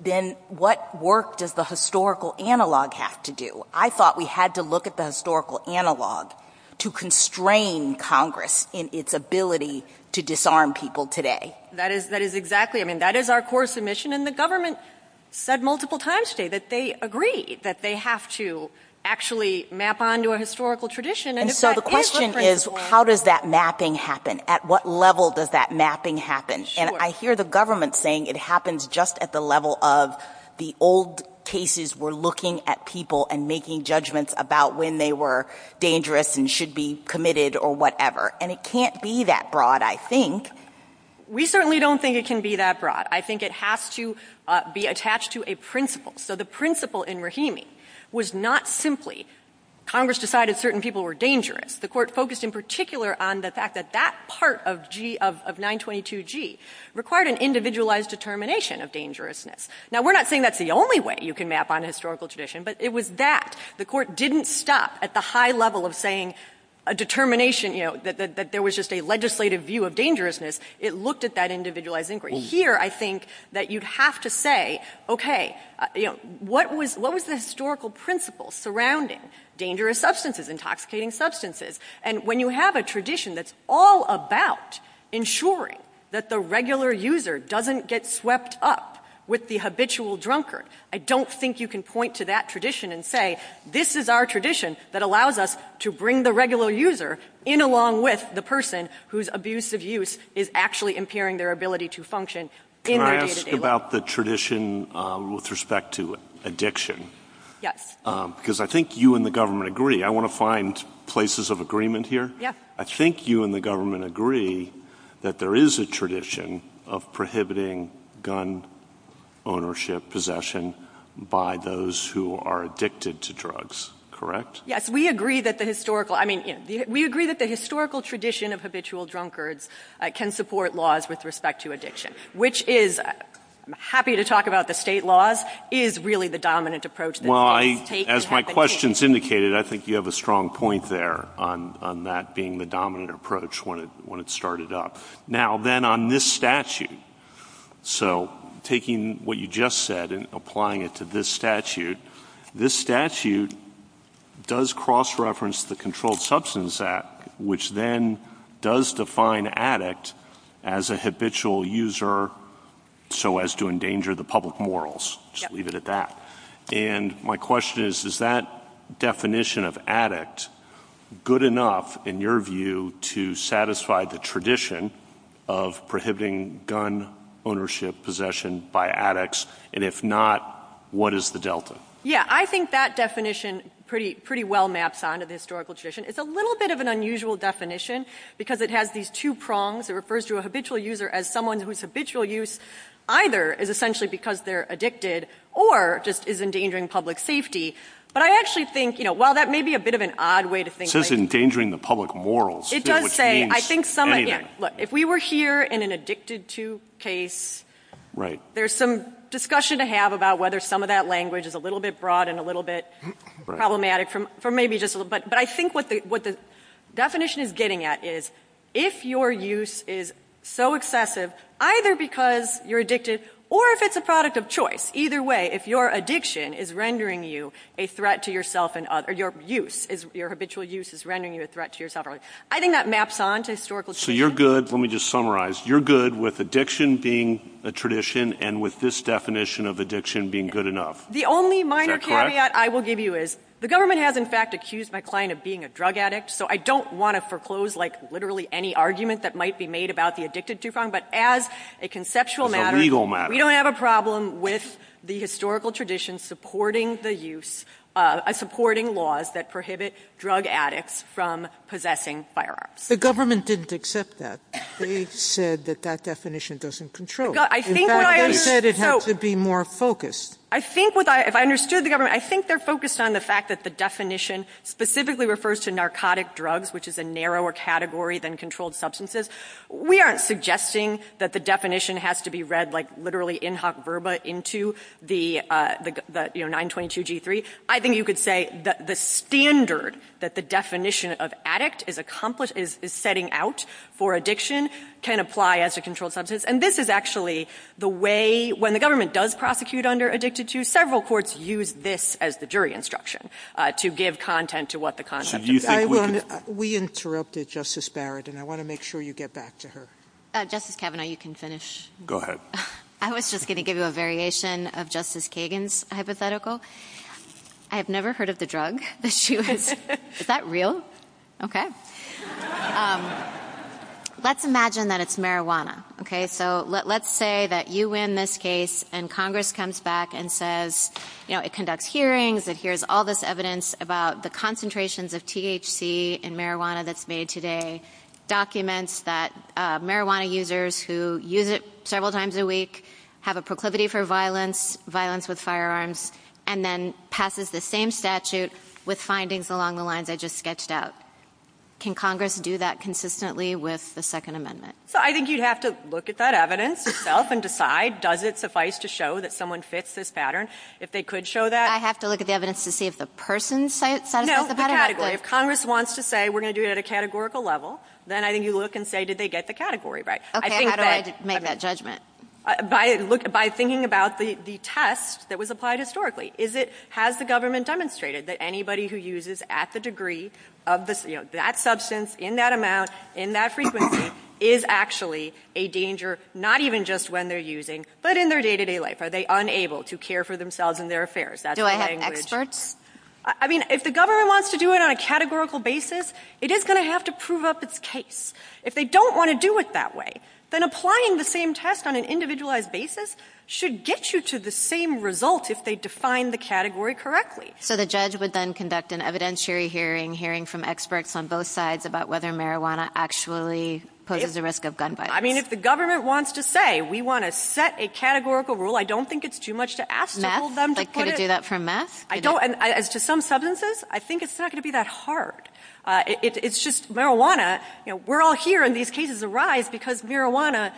then what work does the historical analog have to do? I thought we had to look at the historical analog to constrain Congress in its ability to disarm people today. That is exactly, I mean, that is our core submission, and the government said multiple times today that they agree that they have to actually map onto a historical tradition. And if that is what's going on... And so the question is, how does that mapping happen? At what level does that mapping happen? Sure. And I hear the government saying it happens just at the level of the old cases where looking at people and making judgments about when they were dangerous and should be committed or whatever. And it can't be that broad, I think. We certainly don't think it can be that broad. I think it has to be attached to a principle. So the principle in Rahimi was not simply Congress decided certain people were dangerous. The court focused in particular on the fact that that part of 922G required an individualized determination of dangerousness. Now, we're not saying that's the only way you can map on a historical tradition, but it was that. The court didn't stop at the high level of saying a determination, you know, that there was just a legislative view of dangerousness. It looked at that individualized inquiry. Here, I think that you have to say, okay, you know, what was the historical principle surrounding dangerous substances, intoxicating substances? And when you have a tradition that's all about ensuring that the regular user doesn't get swept up with the habitual drunkard, I don't think you can point to that tradition and say, this is our tradition that allows us to bring the regular user in along with the Can I ask about the tradition with respect to addiction? Yes. Because I think you and the government agree. I want to find places of agreement here. Yes. I think you and the government agree that there is a tradition of prohibiting gun ownership possession by those who are addicted to drugs, correct? Yes. We agree that the historical – I mean, we agree that the historical tradition of habitual addiction, which is – I'm happy to talk about the state laws – is really the dominant approach that states have been taking. Well, as my questions indicated, I think you have a strong point there on that being the dominant approach when it started up. Now, then, on this statute, so taking what you just said and applying it to this statute, this statute does cross-reference the Controlled Substance Act, which then does define addict as a habitual user so as to endanger the public morals. Yep. Just leave it at that. And my question is, is that definition of addict good enough, in your view, to satisfy the tradition of prohibiting gun ownership possession by addicts? And if not, what is the delta? Yeah, I think that definition pretty well maps onto the historical tradition. It's a little bit of an unusual definition because it has these two prongs. It refers to a habitual user as someone whose habitual use either is essentially because they're addicted or just is endangering public safety. But I actually think, you know, while that may be a bit of an odd way to think – It says endangering the public morals, which means anything. It does say. I think some – look, if we were here in an addicted-to case, there's some discussion to have about whether some of that language is a little bit broad and a little bit problematic for maybe just a little bit. But I think what the definition is getting at is if your use is so excessive either because you're addicted or if it's a product of choice, either way, if your addiction is rendering you a threat to yourself and others – or your use, your habitual use is rendering you a threat to yourself and others, I think that maps onto historical tradition. So you're good – let me just summarize. You're good with addiction being a tradition and with this definition of addiction being good enough. The only minor caveat I will give you is the government has, in fact, accused my client of being a drug addict. So I don't want to foreclose, like, literally any argument that might be made about the addicted-to problem. But as a conceptual matter – We don't have a problem with the historical tradition supporting the use – supporting laws that prohibit drug addicts from possessing firearms. The government didn't accept that. They said that that definition doesn't control. In fact, they said it has to be more focused. I think what I – if I understood the government, I think they're focused on the fact that the definition specifically refers to narcotic drugs, which is a narrower category than controlled substances. We aren't suggesting that the definition has to be read, like, literally in hoc verba into the, you know, 922G3. I think you could say that the standard that the definition of addict is accomplish – is setting out for addiction can apply as a controlled substance. And this is actually the way – when the government does prosecute under addicted-to, several courts use this as the jury instruction to give content to what the content – We interrupted Justice Barrett, and I want to make sure you get back to her. Justice Kavanaugh, you can finish. Go ahead. I was just going to give you a variation of Justice Kagan's hypothetical. I have never heard of the drug that she was – Is that real? Okay. Let's imagine that it's marijuana, okay? So let's say that you win this case, and Congress comes back and says – you know, it conducts hearings, it hears all this evidence about the concentrations of THC in marijuana that's made today, documents that marijuana users who use it several times a week have a proclivity for violence, violence with firearms, and then passes the same statute with findings along the lines I just sketched out. Can Congress do that consistently with the Second Amendment? So I think you'd have to look at that evidence itself and decide, does it suffice to show that someone fits this pattern? If they could show that – I have to look at the evidence to see if the person satisfies the pattern? No, the category. If Congress wants to say, we're going to do it at a categorical level, then I think you look and say, did they get the category right? Okay, how do I make that judgment? By thinking about the test that was applied historically. Has the government demonstrated that anybody who uses at the degree of that substance, in that amount, in that frequency, is actually a danger, not even just when they're using, but in their day-to-day life? Are they unable to care for themselves and their affairs? Do I have experts? I mean, if the government wants to do it on a categorical basis, it is going to have to prove up its case. If they don't want to do it that way, then applying the same test on an individualized basis should get you to the same result if they define the category correctly. So the judge would then conduct an evidentiary hearing, hearing from experts on both sides about whether marijuana actually poses a risk of gun violence? I mean, if the government wants to say, we want to set a categorical rule, I don't think it's too much to ask all of them to put it – Matt, could you do that for Matt? I don't – as to some substances, I think it's not going to be that hard. It's just marijuana – we're all here and these cases arise because marijuana,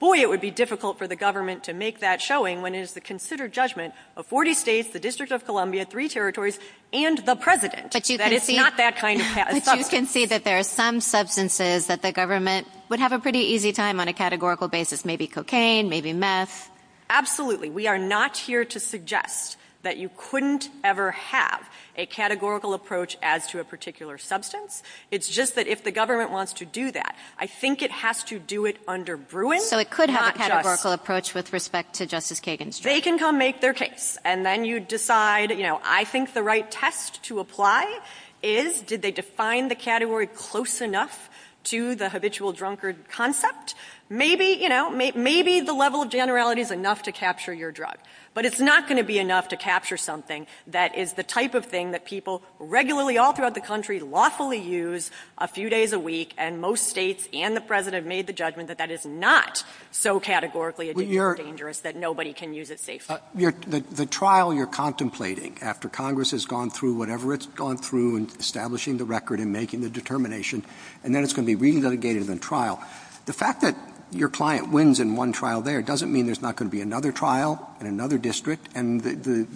boy, it would be difficult for the government to make that showing when it is the considered judgment of 40 states, the District of Columbia, three territories, and the president that it's not that kind of substance. But you can see that there are some substances that the government would have a pretty easy time on a categorical basis, maybe cocaine, maybe meth. Absolutely. We are not here to suggest that you couldn't ever have a categorical approach as to a particular substance. It's just that if the government wants to do that, I think it has to do it under Bruin. So it could have a categorical approach with respect to Justice Kagan's case. They can come make their case, and then you decide, you know, I think the right test to apply is, did they define the category close enough to the habitual drunkard concept? Maybe, you know, maybe the level of generality is enough to capture your drug. But it's not going to be enough to capture something that is the type of thing that people regularly all throughout the country lawfully use a few days a week, and most states and the president made the judgment that that is not so categorically dangerous that nobody can use it safely. The trial you're contemplating after Congress has gone through whatever it's gone through in establishing the record and making the determination, and then it's going to be re-dedicated in trial. The fact that your client wins in one trial there doesn't mean there's not going to be another trial in another district, and the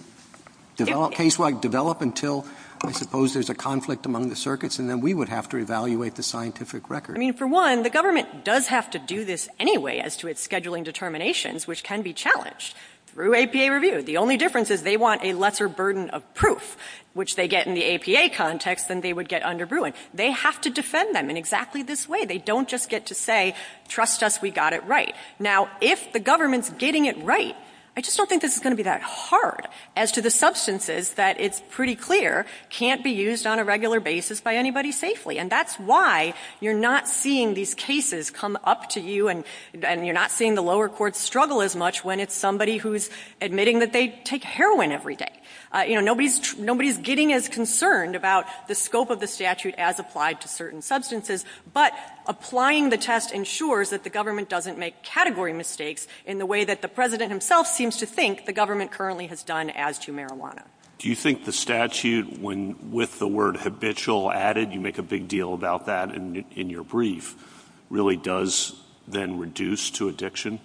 case won't develop until I suppose there's a conflict among the circuits, and then we would have to evaluate the scientific record. I mean, for one, the government does have to do this anyway as to its scheduling determinations, which can be challenged through APA review. The only difference is they want a lesser burden of proof, which they get in the APA context than they would get under Bruin. They have to defend them in exactly this way. They don't just get to say, trust us, we got it right. Now, if the government's getting it right, I just don't think this is going to be that hard as to the substances that it's pretty clear can't be used on a regular basis by anybody safely. And that's why you're not seeing these cases come up to you, and you're not seeing the lower courts struggle as much when it's somebody who's admitting that they take heroin every day. You know, nobody's getting as concerned about the scope of the statute as applied to certain substances, but applying the test ensures that the government doesn't make category mistakes in the way that the president himself seems to think the government currently has done as to marijuana. Do you think the statute, when with the word habitual added, you make a big deal about that in your brief, really does then reduce to addiction?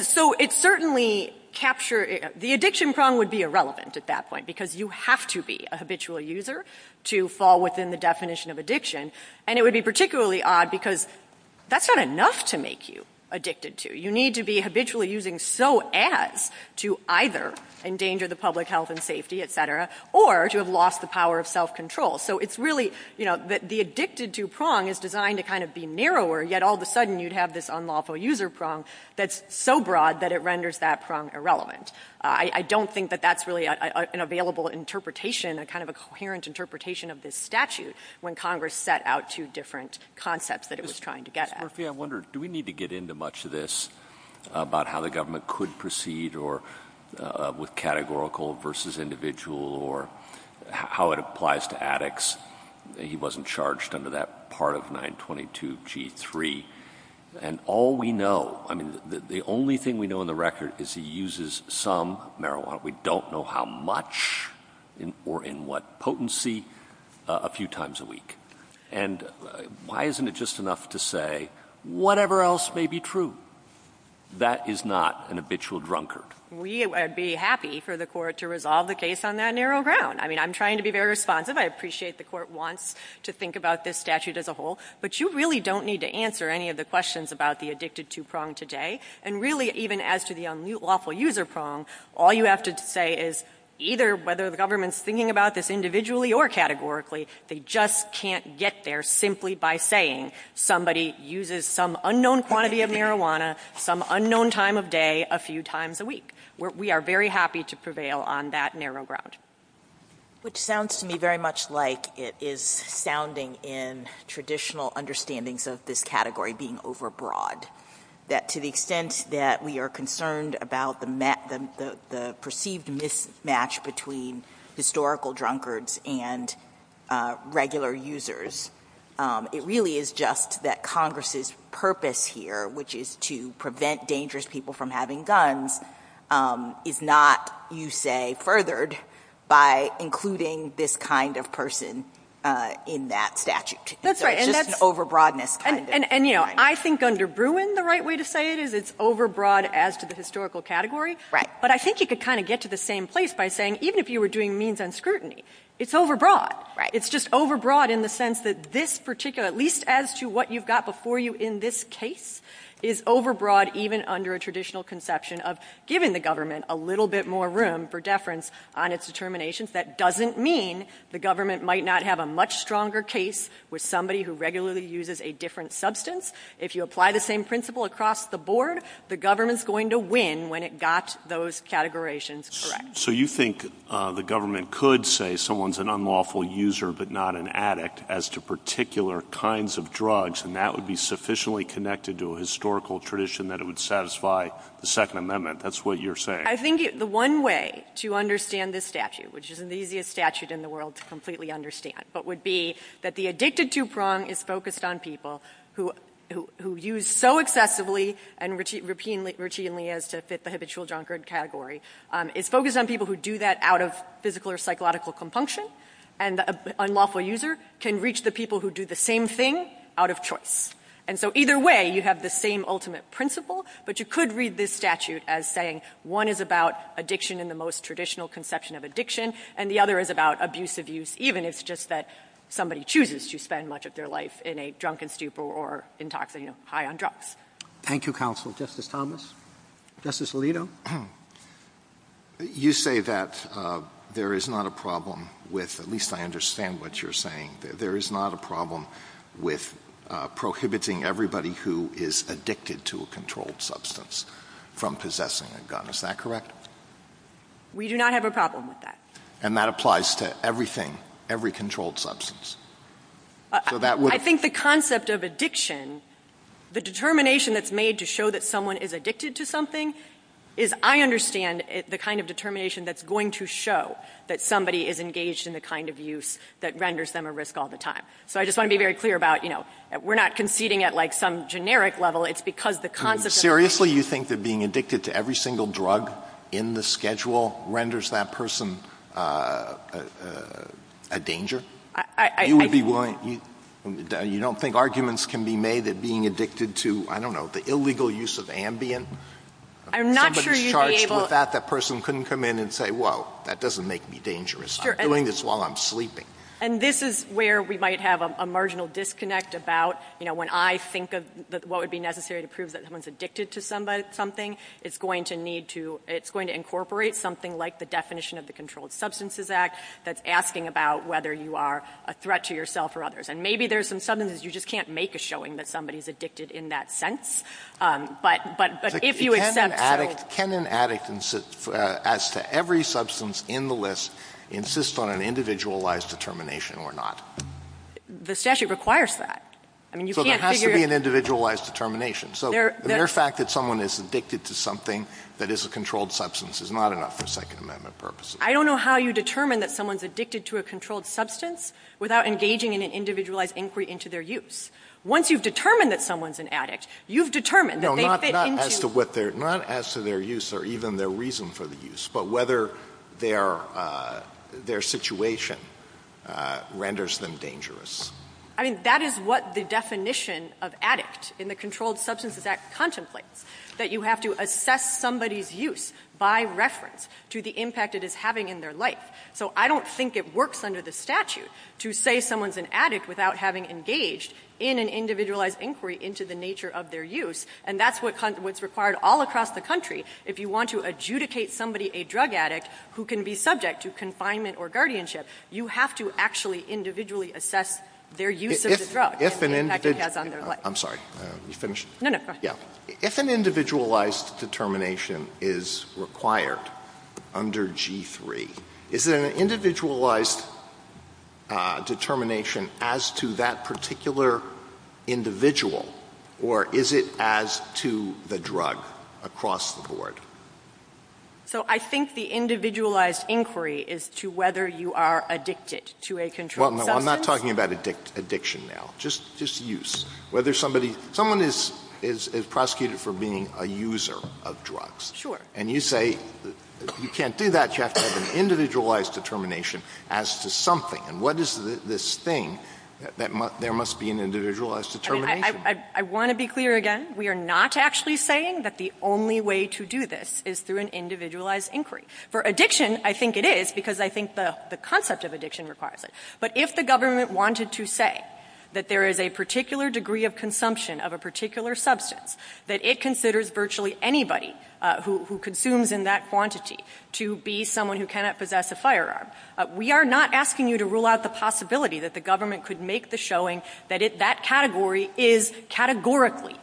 So, it certainly captured – the addiction problem would be irrelevant at that point because you have to be a habitual user to fall within the definition of addiction. And it would be particularly odd because that's not enough to make you addicted to. You need to be habitually using so as to either endanger the public health and safety, et cetera, or to have lost the power of self-control. So, it's really, you know, the addicted to prong is designed to kind of be narrower, yet all of a sudden you'd have this unlawful user prong that's so broad that it renders that prong irrelevant. I don't think that that's really an available interpretation, a kind of a coherent interpretation of this statute when Congress set out two different concepts that it was trying to get at. Mr. Murphy, I wonder, do we need to get into much of this about how the government could proceed with categorical versus individual or how it applies to addicts? He wasn't charged under that part of 922G3. And all we know – I mean, the only thing we know on the record is he uses some marijuana. We don't know how much or in what potency a few times a week. And why isn't it just enough to say whatever else may be true? That is not an habitual drunkard. We would be happy for the Court to resolve the case on that narrow ground. I mean, I'm trying to be very responsive. I appreciate the Court wants to think about this statute as a whole. But you really don't need to answer any of the questions about the addicted to prong today. And really, even as to the unlawful user prong, all you have to say is either whether the government's thinking about this individually or categorically, they just can't get there simply by saying somebody uses some unknown quantity of marijuana some unknown time of day a few times a week. We are very happy to prevail on that narrow ground. Which sounds to me very much like it is sounding in traditional understandings of this category being overbroad, that to the extent that we are concerned about the perceived mismatch between historical drunkards and regular users, it really is just that Congress' purpose here, which is to prevent dangerous people from having guns, is not, you say, furthered by including this kind of person in that statute. That's right. And that's overbroadness. And, you know, I think under Bruin the right way to say it is it's overbroad as to the historical category. Right. But I think you could kind of get to the same place by saying even if you were doing means on scrutiny, it's overbroad. Right. It's just overbroad in the sense that this particular, at least as to what you've got before you in this case, is overbroad even under a traditional conception of giving the government a little bit more room for deference on its determinations. That doesn't mean the government might not have a much stronger case with somebody who regularly uses a different substance. If you apply the same principle across the board, the government's going to win when it got those categorations correct. So you think the government could say someone's an unlawful user but not an addict as to particular kinds of drugs, and that would be sufficiently connected to a historical tradition that it would satisfy the Second Amendment. That's what you're saying. I think the one way to understand this statute, which isn't the easiest statute in the world to completely understand, but would be that the addictive two-prong is focused on people who use so excessively and routinely as to fit the habitual drunkard category. It's focused on people who do that out of physical or psychological compunction, and an unlawful user can reach the people who do the same thing out of choice. And so either way, you have the same ultimate principle, but you could read this statute as saying one is about addiction in the most traditional conception of addiction, and the other is about abuse, abuse even. And it's just that somebody chooses to spend much of their life in a drunken stupor or intoxicant high on drugs. Thank you, Counsel. Justice Thomas? Justice Alito? You say that there is not a problem with, at least I understand what you're saying, there is not a problem with prohibiting everybody who is addicted to a controlled substance from possessing a gun. Is that correct? We do not have a problem with that. And that applies to everything, every controlled substance. I think the concept of addiction, the determination that's made to show that someone is addicted to something is, I understand, the kind of determination that's going to show that somebody is engaged in the kind of use that renders them at risk all the time. So I just want to be very clear about, you know, we're not conceding at like some generic level, it's because the concept... Seriously you think that being addicted to every single drug in the schedule renders that person a danger? I... You would be willing... You don't think arguments can be made that being addicted to, I don't know, the illegal use of Ambien? I'm not sure you'd be able... If somebody is charged with that, that person couldn't come in and say, well, that doesn't make me dangerous. I'm doing this while I'm sleeping. And this is where we might have a marginal disconnect about, you know, when I think of what would be necessary to prove that someone is addicted to something, it's going to need definition of the Controlled Substances Act that's asking about whether you are a threat to yourself or others. And maybe there's some... Sometimes you just can't make a showing that somebody is addicted in that sense, but if you accept... Can an addict, as to every substance in the list, insist on an individualized determination or not? The statute requires that. I mean, you can't figure... So there has to be an individualized determination. So the mere fact that someone is addicted to something that is a controlled substance is not enough for Second Amendment purposes. I don't know how you determine that someone is addicted to a controlled substance without engaging in an individualized inquiry into their use. Once you've determined that someone is an addict, you've determined that they fit into... No, not as to their use or even their reason for the use, but whether their situation renders them dangerous. I mean, that is what the definition of addict in the Controlled Substances Act contemplates, that you have to assess somebody's use by reference to the impact it is having in their life. So I don't think it works under the statute to say someone's an addict without having engaged in an individualized inquiry into the nature of their use, and that's what's required all across the country. If you want to adjudicate somebody a drug addict who can be subject to confinement or guardianship, you have to actually individually assess their use of the drug. If an individual... I'm sorry. Let me finish. No, no, go ahead. If an individualized determination is required under G3, is it an individualized determination as to that particular individual, or is it as to the drug across the board? So I think the individualized inquiry is to whether you are addicted to a controlled substance. Well, no, I'm not talking about addiction now, just use. Someone is prosecuted for being a user of drugs. Sure. And you say you can't do that, you have to have an individualized determination as to something. And what is this thing that there must be an individualized determination? I want to be clear again. We are not actually saying that the only way to do this is through an individualized inquiry. For addiction, I think it is, because I think the concept of addiction requires it. But if the government wanted to say that there is a particular degree of consumption of a particular substance that it considers virtually anybody who consumes in that quantity to be someone who cannot possess a firearm, we are not asking you to rule out the possibility that the government could make the showing that that category is categorically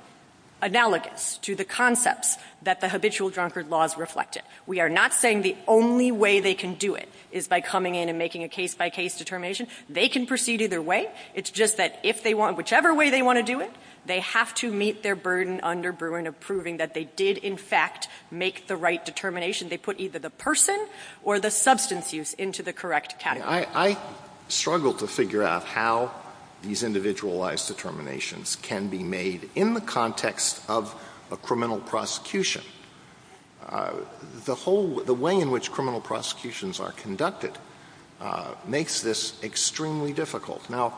analogous to the concepts that the habitual drunkard laws reflected. We are not saying the only way they can do it is by coming in and making a case-by-case determination. They can proceed either way. It is just that if they want, whichever way they want to do it, they have to meet their burden under Bruin of proving that they did, in fact, make the right determination. They put either the person or the substance use into the correct category. I struggle to figure out how these individualized determinations can be made in the context of a criminal prosecution. The way in which criminal prosecutions are conducted makes this extremely difficult. Now,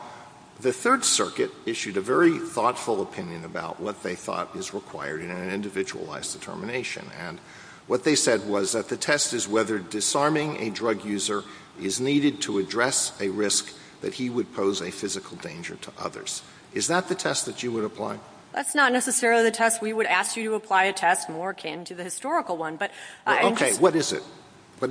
the Third Circuit issued a very thoughtful opinion about what they thought was required in an individualized determination. And what they said was that the test is whether disarming a drug user is needed to address a risk that he would pose a physical danger to others. Is that the test that you would apply? That's not necessarily the test. We would ask you to apply a test more akin to the historical one. Okay. What is it?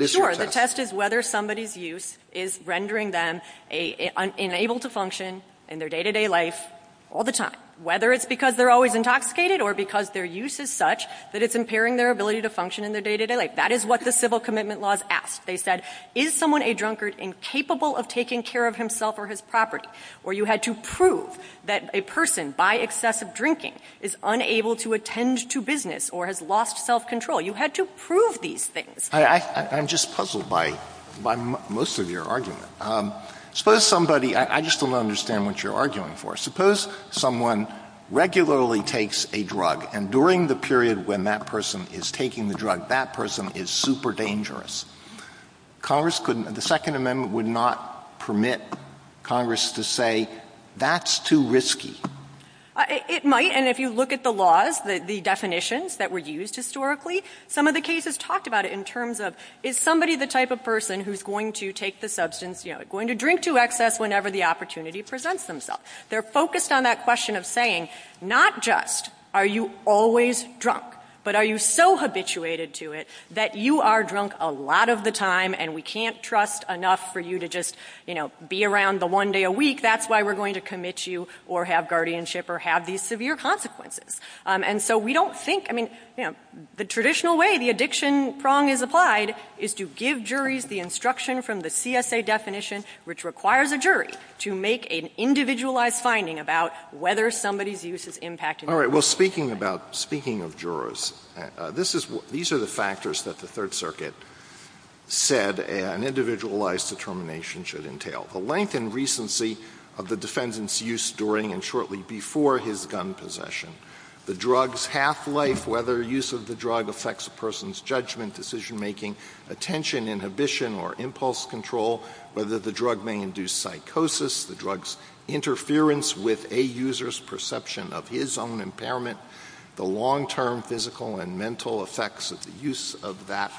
Sure. The test is whether somebody's use is rendering them unable to function in their day-to-day life all the time. Whether it's because they're always intoxicated or because their use is such that it's impairing their ability to function in their day-to-day life. That is what the civil commitment laws ask. They said, is someone a drunkard incapable of taking care of himself or his property? Or you had to prove that a person, by excessive drinking, is unable to attend to business or has lost self-control. You had to prove these things. I'm just puzzled by most of your argument. Suppose somebody — I just don't understand what you're arguing for. Suppose someone regularly takes a drug, and during the period when that person is taking the drug, that person is super dangerous. Congress couldn't — the Second Amendment would not permit Congress to say, that's too risky. It might, and if you look at the laws, the definitions that were used historically, some of the cases talked about it in terms of, is somebody the type of person who's going to take the substance, you know, going to drink to excess whenever the opportunity presents themselves. They're focused on that question of saying, not just are you always drunk, but are you so habituated to it that you are drunk a lot of the time and we can't trust enough for you to just, you know, be around the one day a week, that's why we're going to commit you or have guardianship or have these severe consequences. And so we don't think — I mean, you know, the traditional way, the addiction prong is applied, is to give juries the instruction from the CSA definition, which requires a jury to make an individualized finding about whether somebody's use is impacting the person. All right, well, speaking about — speaking of jurors, this is — these are the factors that the Third Circuit said an individualized determination should entail. The length and recency of the defendant's use during and shortly before his gun possession, the drug's half-life, whether use of the drug affects a person's judgment, decision-making, attention, inhibition, or impulse control, whether the drug may induce psychosis, the drug's interference with a user's perception of his own impairment, the long-term physical and mental effects of the use of that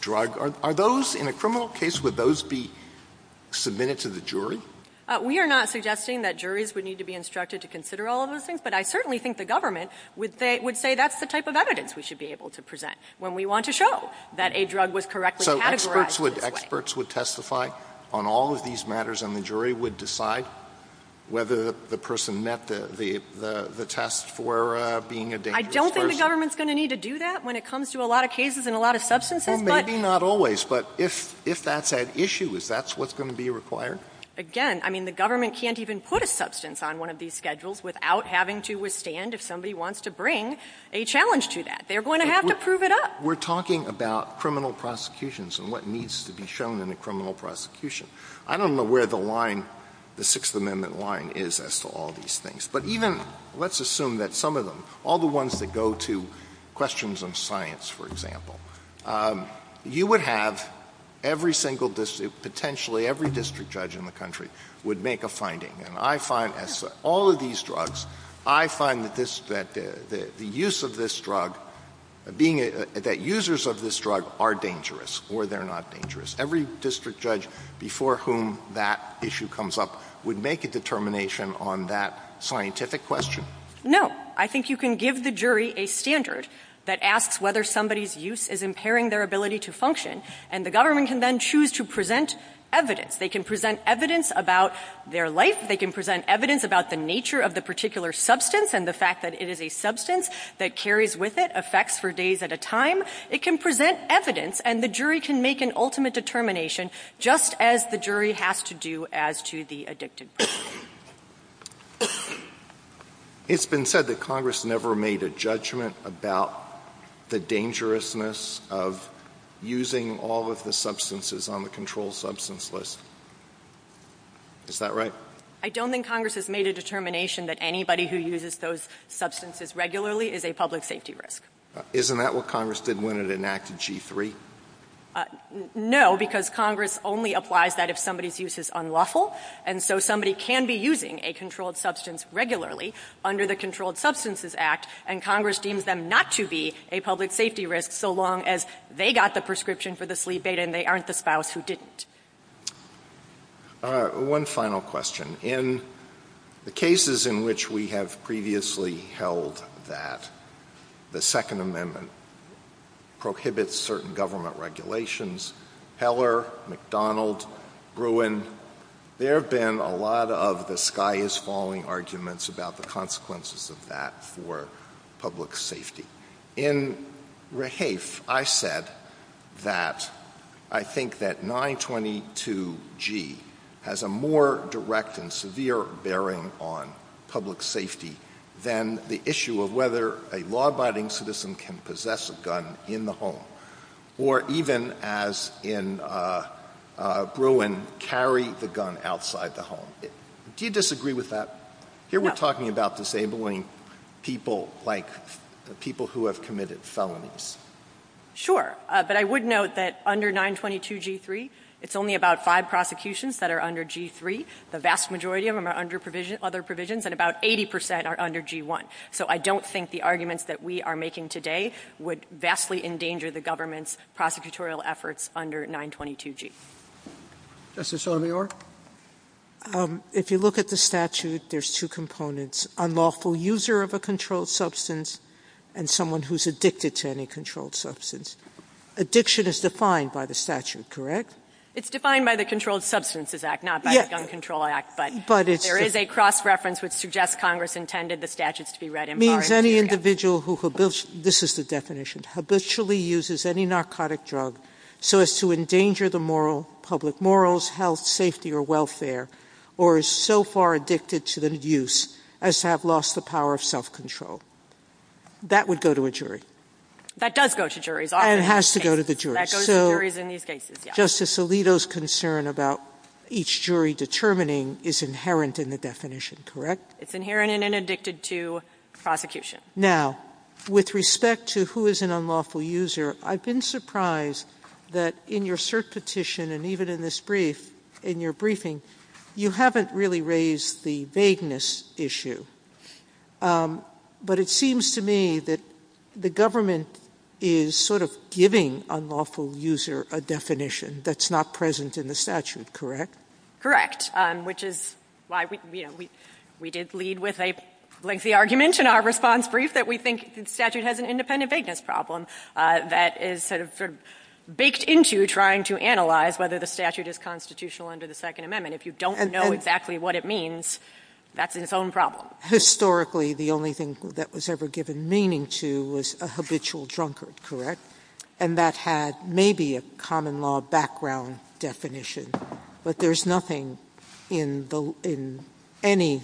drug. Are those — in a criminal case, would those be submitted to the jury? We are not suggesting that juries would need to be instructed to consider all of those things, but I certainly think the government would say that's the type of evidence we should be able to present when we want to show that a drug was correctly categorized. Experts would — experts would testify on all of these matters, and the jury would decide whether the person met the test for being a dangerous person. I don't think the government's going to need to do that when it comes to a lot of cases and a lot of substances, but — Well, maybe not always, but if that's at issue, is that what's going to be required? Again, I mean, the government can't even put a substance on one of these schedules without having to withstand if somebody wants to bring a challenge to that. They're going to have to prove it up. We're talking about criminal prosecutions and what needs to be shown in a criminal prosecution. I don't know where the line, the Sixth Amendment line, is as to all these things. But even — let's assume that some of them, all the ones that go to questions of science, for example, you would have every single — potentially every district judge in the country would make a finding. And I find, as all of these drugs, I find that this — that the use of this drug, being — that users of this drug are dangerous or they're not dangerous. Every district judge before whom that issue comes up would make a determination on that scientific question. No. I think you can give the jury a standard that asks whether somebody's use is impairing their ability to function, and the government can then choose to present evidence. They can present evidence about their life. They can present evidence about the nature of the particular substance and the fact that it is a substance that carries with it effects for days at a time. It can present evidence, and the jury can make an ultimate determination, just as the jury has to do as to the addictive. It's been said that Congress never made a judgment about the dangerousness of using all of the substances on the controlled substance list. Is that right? I don't think Congress has made a determination that anybody who uses those substances regularly is a public safety risk. Isn't that what Congress did when it enacted G-3? No, because Congress only applies that if somebody's use is unlawful, and so somebody can be using a controlled substance regularly under the Controlled Substances Act, and Congress deems them not to be a public safety risk so long as they got the prescription for the sleep aid and they aren't the spouse who didn't. All right. One final question. In the cases in which we have previously held that the Second Amendment prohibits certain government regulations, Heller, McDonald, Bruin, there have been a lot of the sky is falling arguments about the consequences of that for public safety. In Rahafe, I said that I think that 922G has a more direct and severe bearing on public safety than the issue of whether a law-abiding citizen can possess a gun in the home, or even as in Bruin, carry the gun outside the home. Do you disagree with that? Here we're talking about disabling people like people who have committed felonies. Sure, but I would note that under 922G-3, it's only about five prosecutions that are under G-3. The vast majority of them are under other provisions, and about 80% are under G-1. So I don't think the arguments that we are making today would vastly endanger the government's prosecutorial efforts under 922G. Justice Sotomayor? If you look at the statute, there's two components. Unlawful user of a controlled substance, and someone who's addicted to any controlled substance. Addiction is defined by the statute, correct? It's defined by the Controlled Substances Act, not by the Gun Control Act, but there is a cross-reference which suggests Congress intended the statutes to be read in part. Means any individual who, this is the definition, habitually uses any narcotic drug so as to increase their safety or welfare, or is so far addicted to the use as to have lost the power of self-control. That would go to a jury. That does go to juries. It has to go to the jury. That goes to juries in these cases, yes. Justice Alito's concern about each jury determining is inherent in the definition, correct? It's inherent and inaddicted to prosecution. Now, with respect to who is an unlawful user, I've been surprised that in your cert petition and even in this brief, in your briefing, you haven't really raised the vagueness issue. But it seems to me that the government is sort of giving unlawful user a definition that's not present in the statute, correct? Correct. Which is why we did lead with a lengthy argument in our response brief that we think the statute has an independent vagueness problem that is sort of baked into trying to analyze whether the statute is constitutional under the Second Amendment. If you don't know exactly what it means, that's its own problem. Historically, the only thing that was ever given meaning to was a habitual drunkard, correct? And that had maybe a common law background definition. But there's nothing in any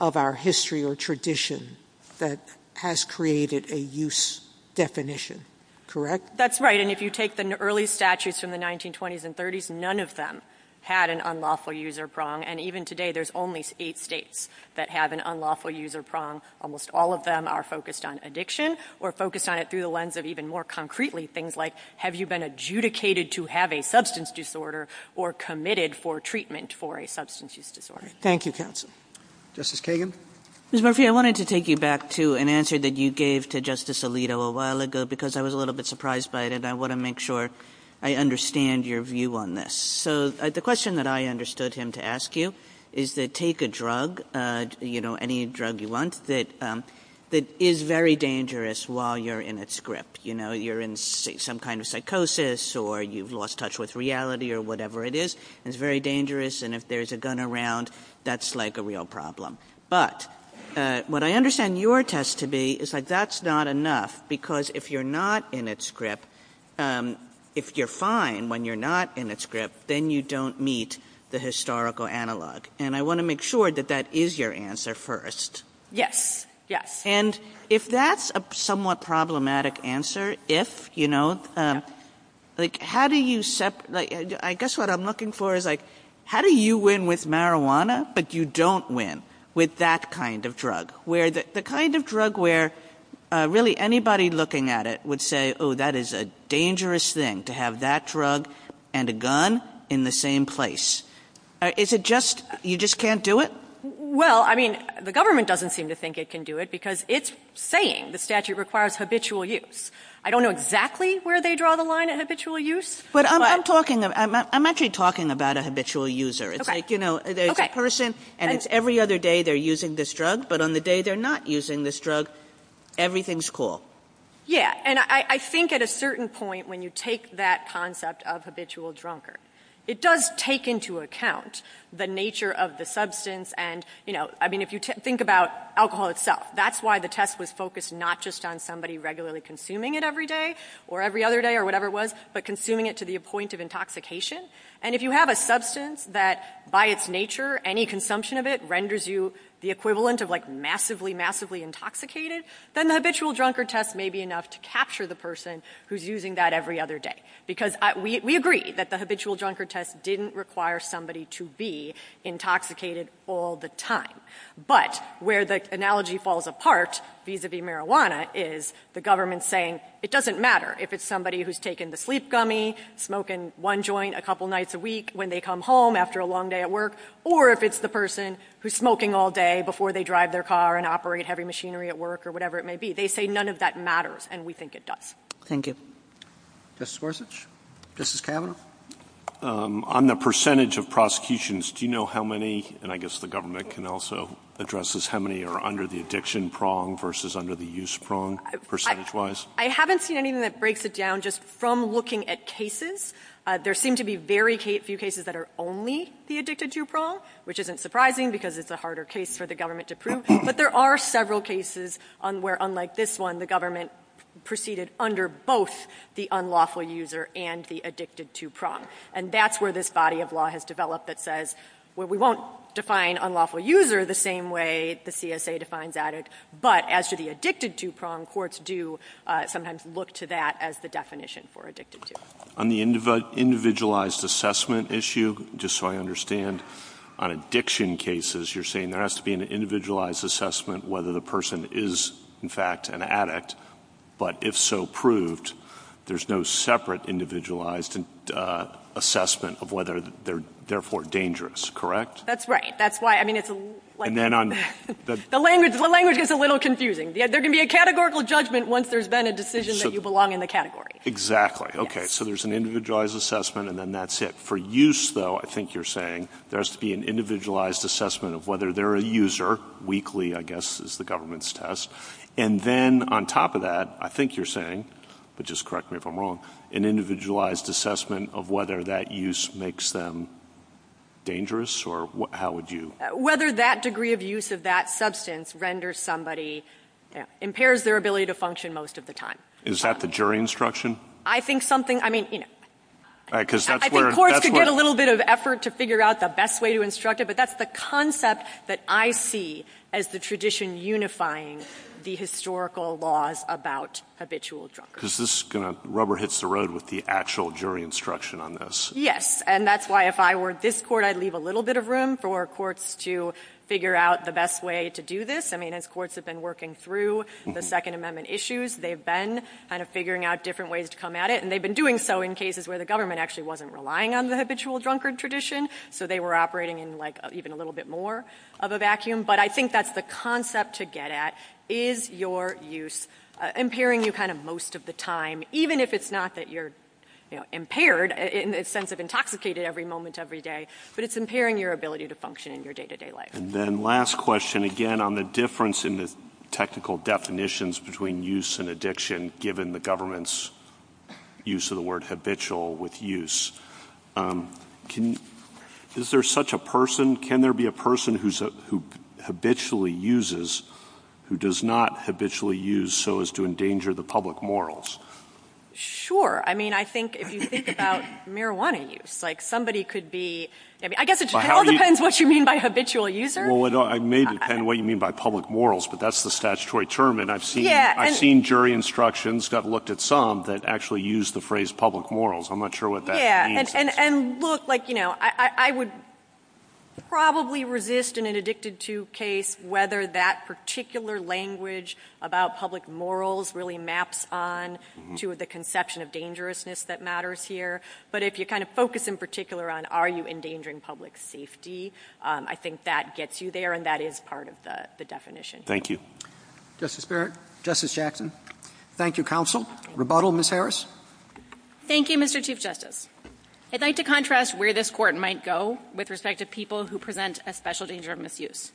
of our history or tradition that has created a use definition, correct? That's right. And if you take the early statutes from the 1920s and 30s, none of them had an unlawful user prong. And even today, there's only eight states that have an unlawful user prong. Almost all of them are focused on addiction or focused on it through the lens of even more concretely things like have you been adjudicated to have a substance disorder or committed for treatment for a substance use disorder. Thank you, counsel. Justice Kagan? Ms. Murphy, I wanted to take you back to an answer that you gave to Justice Alito a while ago because I was a little bit surprised by it. And I want to make sure I understand your view on this. So the question that I understood him to ask you is that take a drug, you know, any drug you want, that is very dangerous while you're in its grip. You know, you're in some kind of psychosis or you've lost touch with reality or whatever it is. It's very dangerous, and if there's a gun around, that's like a real problem. But what I understand your test to be is that that's not enough because if you're not in its grip, if you're fine when you're not in its grip, then you don't meet the historical analog. And I want to make sure that that is your answer first. Yes. Yes. And if that's a somewhat problematic answer, if, you know, like how do you set – I guess what I'm looking for is like how do you win with marijuana but you don't win with that kind of drug? The kind of drug where really anybody looking at it would say, oh, that is a dangerous thing to have that drug and a gun in the same place. Is it just – you just can't do it? Well, I mean, the government doesn't seem to think it can do it because it's saying the statute requires habitual use. I don't know exactly where they draw the line in habitual use. But I'm talking – I'm actually talking about a habitual user. Okay. It's like, you know, there's a person and it's every other day they're using this drug, but on the day they're not using this drug, everything's cool. Yeah. And I think at a certain point when you take that concept of habitual drunker, it does take into account the nature of the substance and, you know, I mean, if you think about alcohol itself, that's why the test was focused not just on somebody regularly consuming it every day or every other day or whatever it was, but consuming it to the point of intoxication. And if you have a substance that by its nature, any consumption of it renders you the equivalent of like massively, massively intoxicated, then the habitual drunker test may be enough to capture the person who's using that every other day. Because we agree that the habitual drunker test didn't require somebody to be intoxicated all the time. But where the analogy falls apart, vis-a-vis marijuana, is the government saying it doesn't matter if it's somebody who's taken the sleep gummy, smoking one joint a couple nights a week when they come home after a long day at work, or if it's the person who's smoking all day before they drive their car and operate heavy machinery at work or whatever it may be. They say none of that matters, and we think it does. Thank you. Justice Gorsuch? Justice Kavanaugh? On the percentage of prosecutions, do you know how many, and I guess the government can also address this, how many are under the addiction prong versus under the use prong percentage-wise? I haven't seen anything that breaks it down just from looking at cases. There seem to be very few cases that are only the addicted-to prong, which isn't surprising because it's a harder case for the government to prove. But there are several cases where, unlike this one, the government proceeded under both the unlawful user and the addicted-to prong. And that's where this body of law has developed that says, well, we won't define unlawful user the same way the CSA defines addict, but as to the addicted-to prong, courts do sometimes look to that as the definition for addicted-to. On the individualized assessment issue, just so I understand, on addiction cases, you're saying there has to be an individualized assessment whether the person is, in fact, an addict. But if so proved, there's no separate individualized assessment of whether they're therefore dangerous, correct? That's right. That's why, I mean, it's a little confusing. There can be a categorical judgment once there's been a decision that you belong in the category. Exactly. Okay, so there's an individualized assessment, and then that's it. For use, though, I think you're saying there has to be an individualized assessment of whether they're a user. Weekly, I guess, is the government's test. And then on top of that, I think you're saying, but just correct me if I'm wrong, an individualized assessment of whether that use makes them dangerous, or how would you? Whether that degree of use of that substance renders somebody, impairs their ability to function most of the time. Is that the jury instruction? I think something, I mean, you know, I think courts can get a little bit of effort to figure out the best way to instruct it, but that's the concept that I see as the tradition unifying the historical laws about habitual drug use. Because this rubber hits the road with the actual jury instruction on this. Yes, and that's why if I were this court, I'd leave a little bit of room for courts to figure out the best way to do this. I mean, as courts have been working through the Second Amendment issues, they've been kind of figuring out different ways to come at it, and they've been doing so in cases where the government actually wasn't relying on the habitual drunkard tradition, so they were operating in, like, even a little bit more of a vacuum. But I think that's the concept to get at, is your use impairing you kind of most of the time, even if it's not that you're impaired in the sense of intoxicated every moment every day, but it's impairing your ability to function in your day-to-day life. And then last question, again, on the difference in the technical definitions between use and addiction, given the government's use of the word habitual with use, is there such a person, can there be a person who habitually uses who does not habitually use so as to endanger the public morals? Sure. I mean, I think if you think about marijuana use, like, somebody could be ‑‑ I guess it still depends what you mean by habitual user. Well, it may depend what you mean by public morals, but that's the statutory term, and I've seen jury instructions that looked at some that actually used the phrase public morals. I'm not sure what that means. Yeah, and, look, like, you know, I would probably resist in an addicted to case whether that particular language about public morals really maps on to the conception of dangerousness that matters here, but if you kind of focus in particular on are you endangering public safety, I think that gets you there, and that is part of the definition. Thank you. Justice Barrett. Justice Jackson. Thank you, counsel. Rebuttal, Ms. Harris. Thank you, Mr. Chief Justice. I'd like to contrast where this court might go with respect to people who present a special danger of misuse.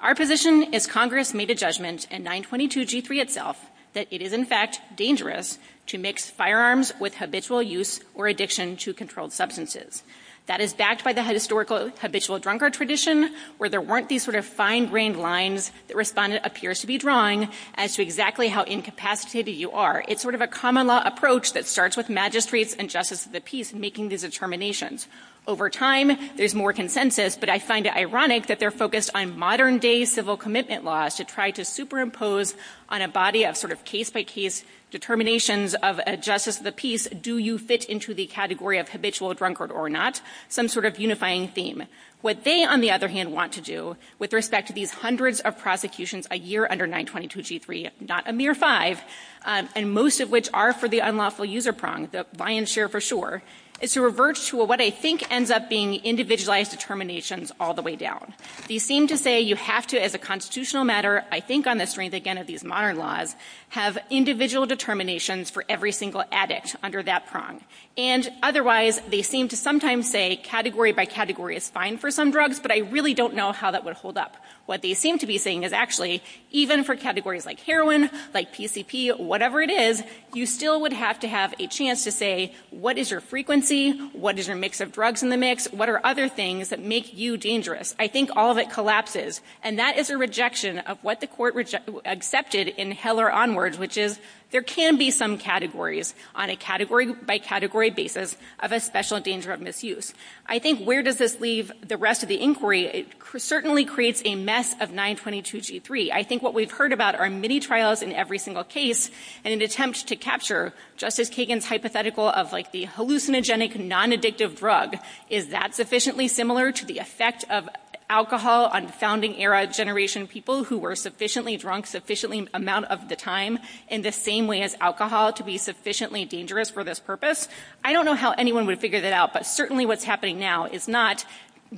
Our position is Congress made a judgment in 922G3 itself that it is, in fact, dangerous to mix firearms with habitual use or addiction to controlled substances. That is backed by the historical habitual drunkard tradition where there weren't these sort of fine-grained lines that respondent appears to be drawing as to exactly how incapacitated you are. It's sort of a common law approach that starts with magistrates and justice of the peace making these determinations. Over time, there's more consensus, but I find it ironic that they're focused on modern-day civil commitment laws to try to superimpose on a body of sort of case-by-case determinations of justice of the peace, do you fit into the category of habitual drunkard or not, some sort of unifying theme. What they, on the other hand, want to do with respect to these hundreds of prosecutions a year under 922G3, not a mere five, and most of which are for the unlawful user prong, the buy and share for sure, is to revert to what I think ends up being individualized determinations all the way down. They seem to say you have to, as a constitutional matter, I think on the strength again of these modern laws, have individual determinations for every single addict under that prong. And otherwise, they seem to sometimes say category by category is fine for some drugs, but I really don't know how that would hold up. What they seem to be saying is actually even for categories like heroin, like PCP, whatever it is, you still would have to have a chance to say what is your frequency, what is your mix of drugs in the mix, what are other things that make you dangerous. I think all of it collapses, and that is a rejection of what the court accepted in Heller onward, which is there can be some categories on a category by category basis of a special danger of misuse. I think where does this leave the rest of the inquiry? It certainly creates a mess of 922G3. I think what we've heard about are many trials in every single case and an attempt to capture Justice Kagan's hypothetical of like the hallucinogenic nonaddictive drug. Is that sufficiently similar to the effect of alcohol on founding-era generation people who were sufficiently drunk sufficiently amount of the time in the same way as alcohol to be sufficiently dangerous for this purpose? I don't know how anyone would have figured it out, but certainly what's happening now is not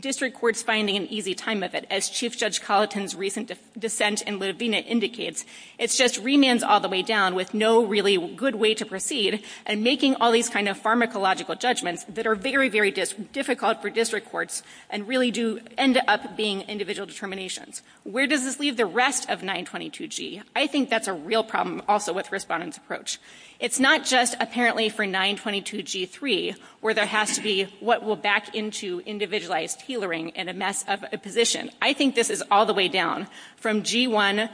district courts finding an easy time method, as Chief Judge Colleton's recent dissent in Lavena indicates. It's just remands all the way down with no really good way to proceed and making all these kind of pharmacological judgments that are very, very difficult for district courts and really do end up being individual determinations. Where does this leave the rest of 922G? I think that's a real problem also with respondents' approach. It's not just apparently for 922G3 where there has to be what will back into individualized healering in a position. I think this is all the way down from G1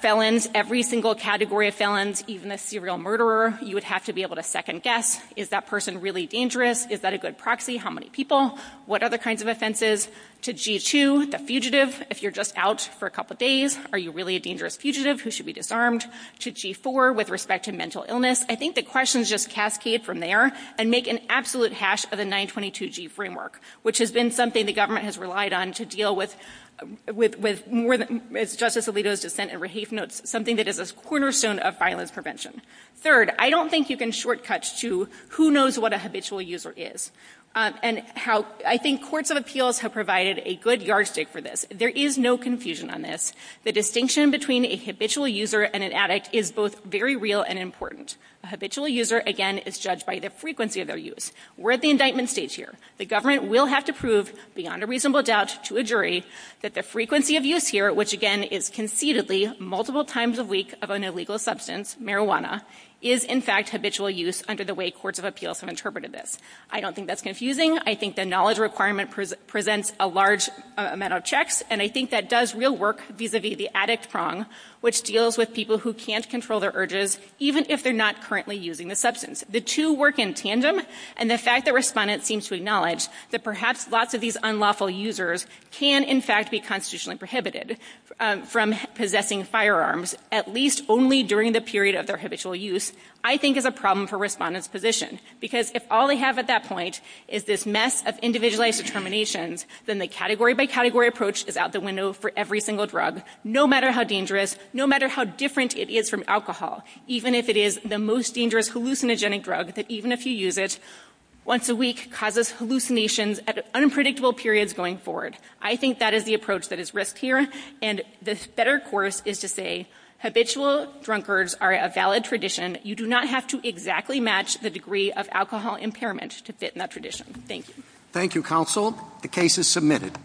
felons, every single category of felons, even a serial murderer. You would have to be able to second-guess. Is that person really dangerous? Is that a good proxy? How many people? What other kinds of offenses? To G2, the fugitives, if you're just out for a couple days, are you really a dangerous fugitive? Who should be disarmed? To G4, with respect to mental illness, I think the questions just cascade from there and make an absolute hash of the 922G framework, which has been something the government has relied on to deal with more than, as Justice Alito's dissent in Raheith notes, something that is a cornerstone of violence prevention. Third, I don't think you can short-cut to who knows what a habitual user is. I think courts of appeals have provided a good yardstick for this. There is no confusion on this. The distinction between a habitual user and an addict is both very real and important. A habitual user, again, is judged by the frequency of their use. We're at the indictment stage here. The government will have to prove beyond a reasonable doubt to a jury that the frequency of use here, which again is concededly multiple times a week of an illegal substance, marijuana, is in fact habitual use under the way courts of appeals have interpreted this. I don't think that's confusing. I think the knowledge requirement presents a large amount of checks, and I think that does real work vis-a-vis the addict prong, which deals with people who can't control their urges even if they're not currently using the substance. The two work in tandem, and the fact that respondents seem to acknowledge that perhaps lots of these unlawful users can in fact be constitutionally prohibited from possessing firearms, at least only during the period of their habitual use, I think is a problem for respondents' positions. Because if all they have at that point is this mess of individualized determinations, then the category-by-category approach is out the window for every single drug, no matter how dangerous, no matter how different it is from alcohol, even if it is the most dangerous hallucinogenic drug, that even if you use it once a week causes hallucinations at unpredictable periods going forward. I think that is the approach that is risked here, and this better course is to say habitual drunkards are a valid tradition. You do not have to exactly match the degree of alcohol impairment to fit in that tradition. Thank you. Thank you, counsel. The case is submitted.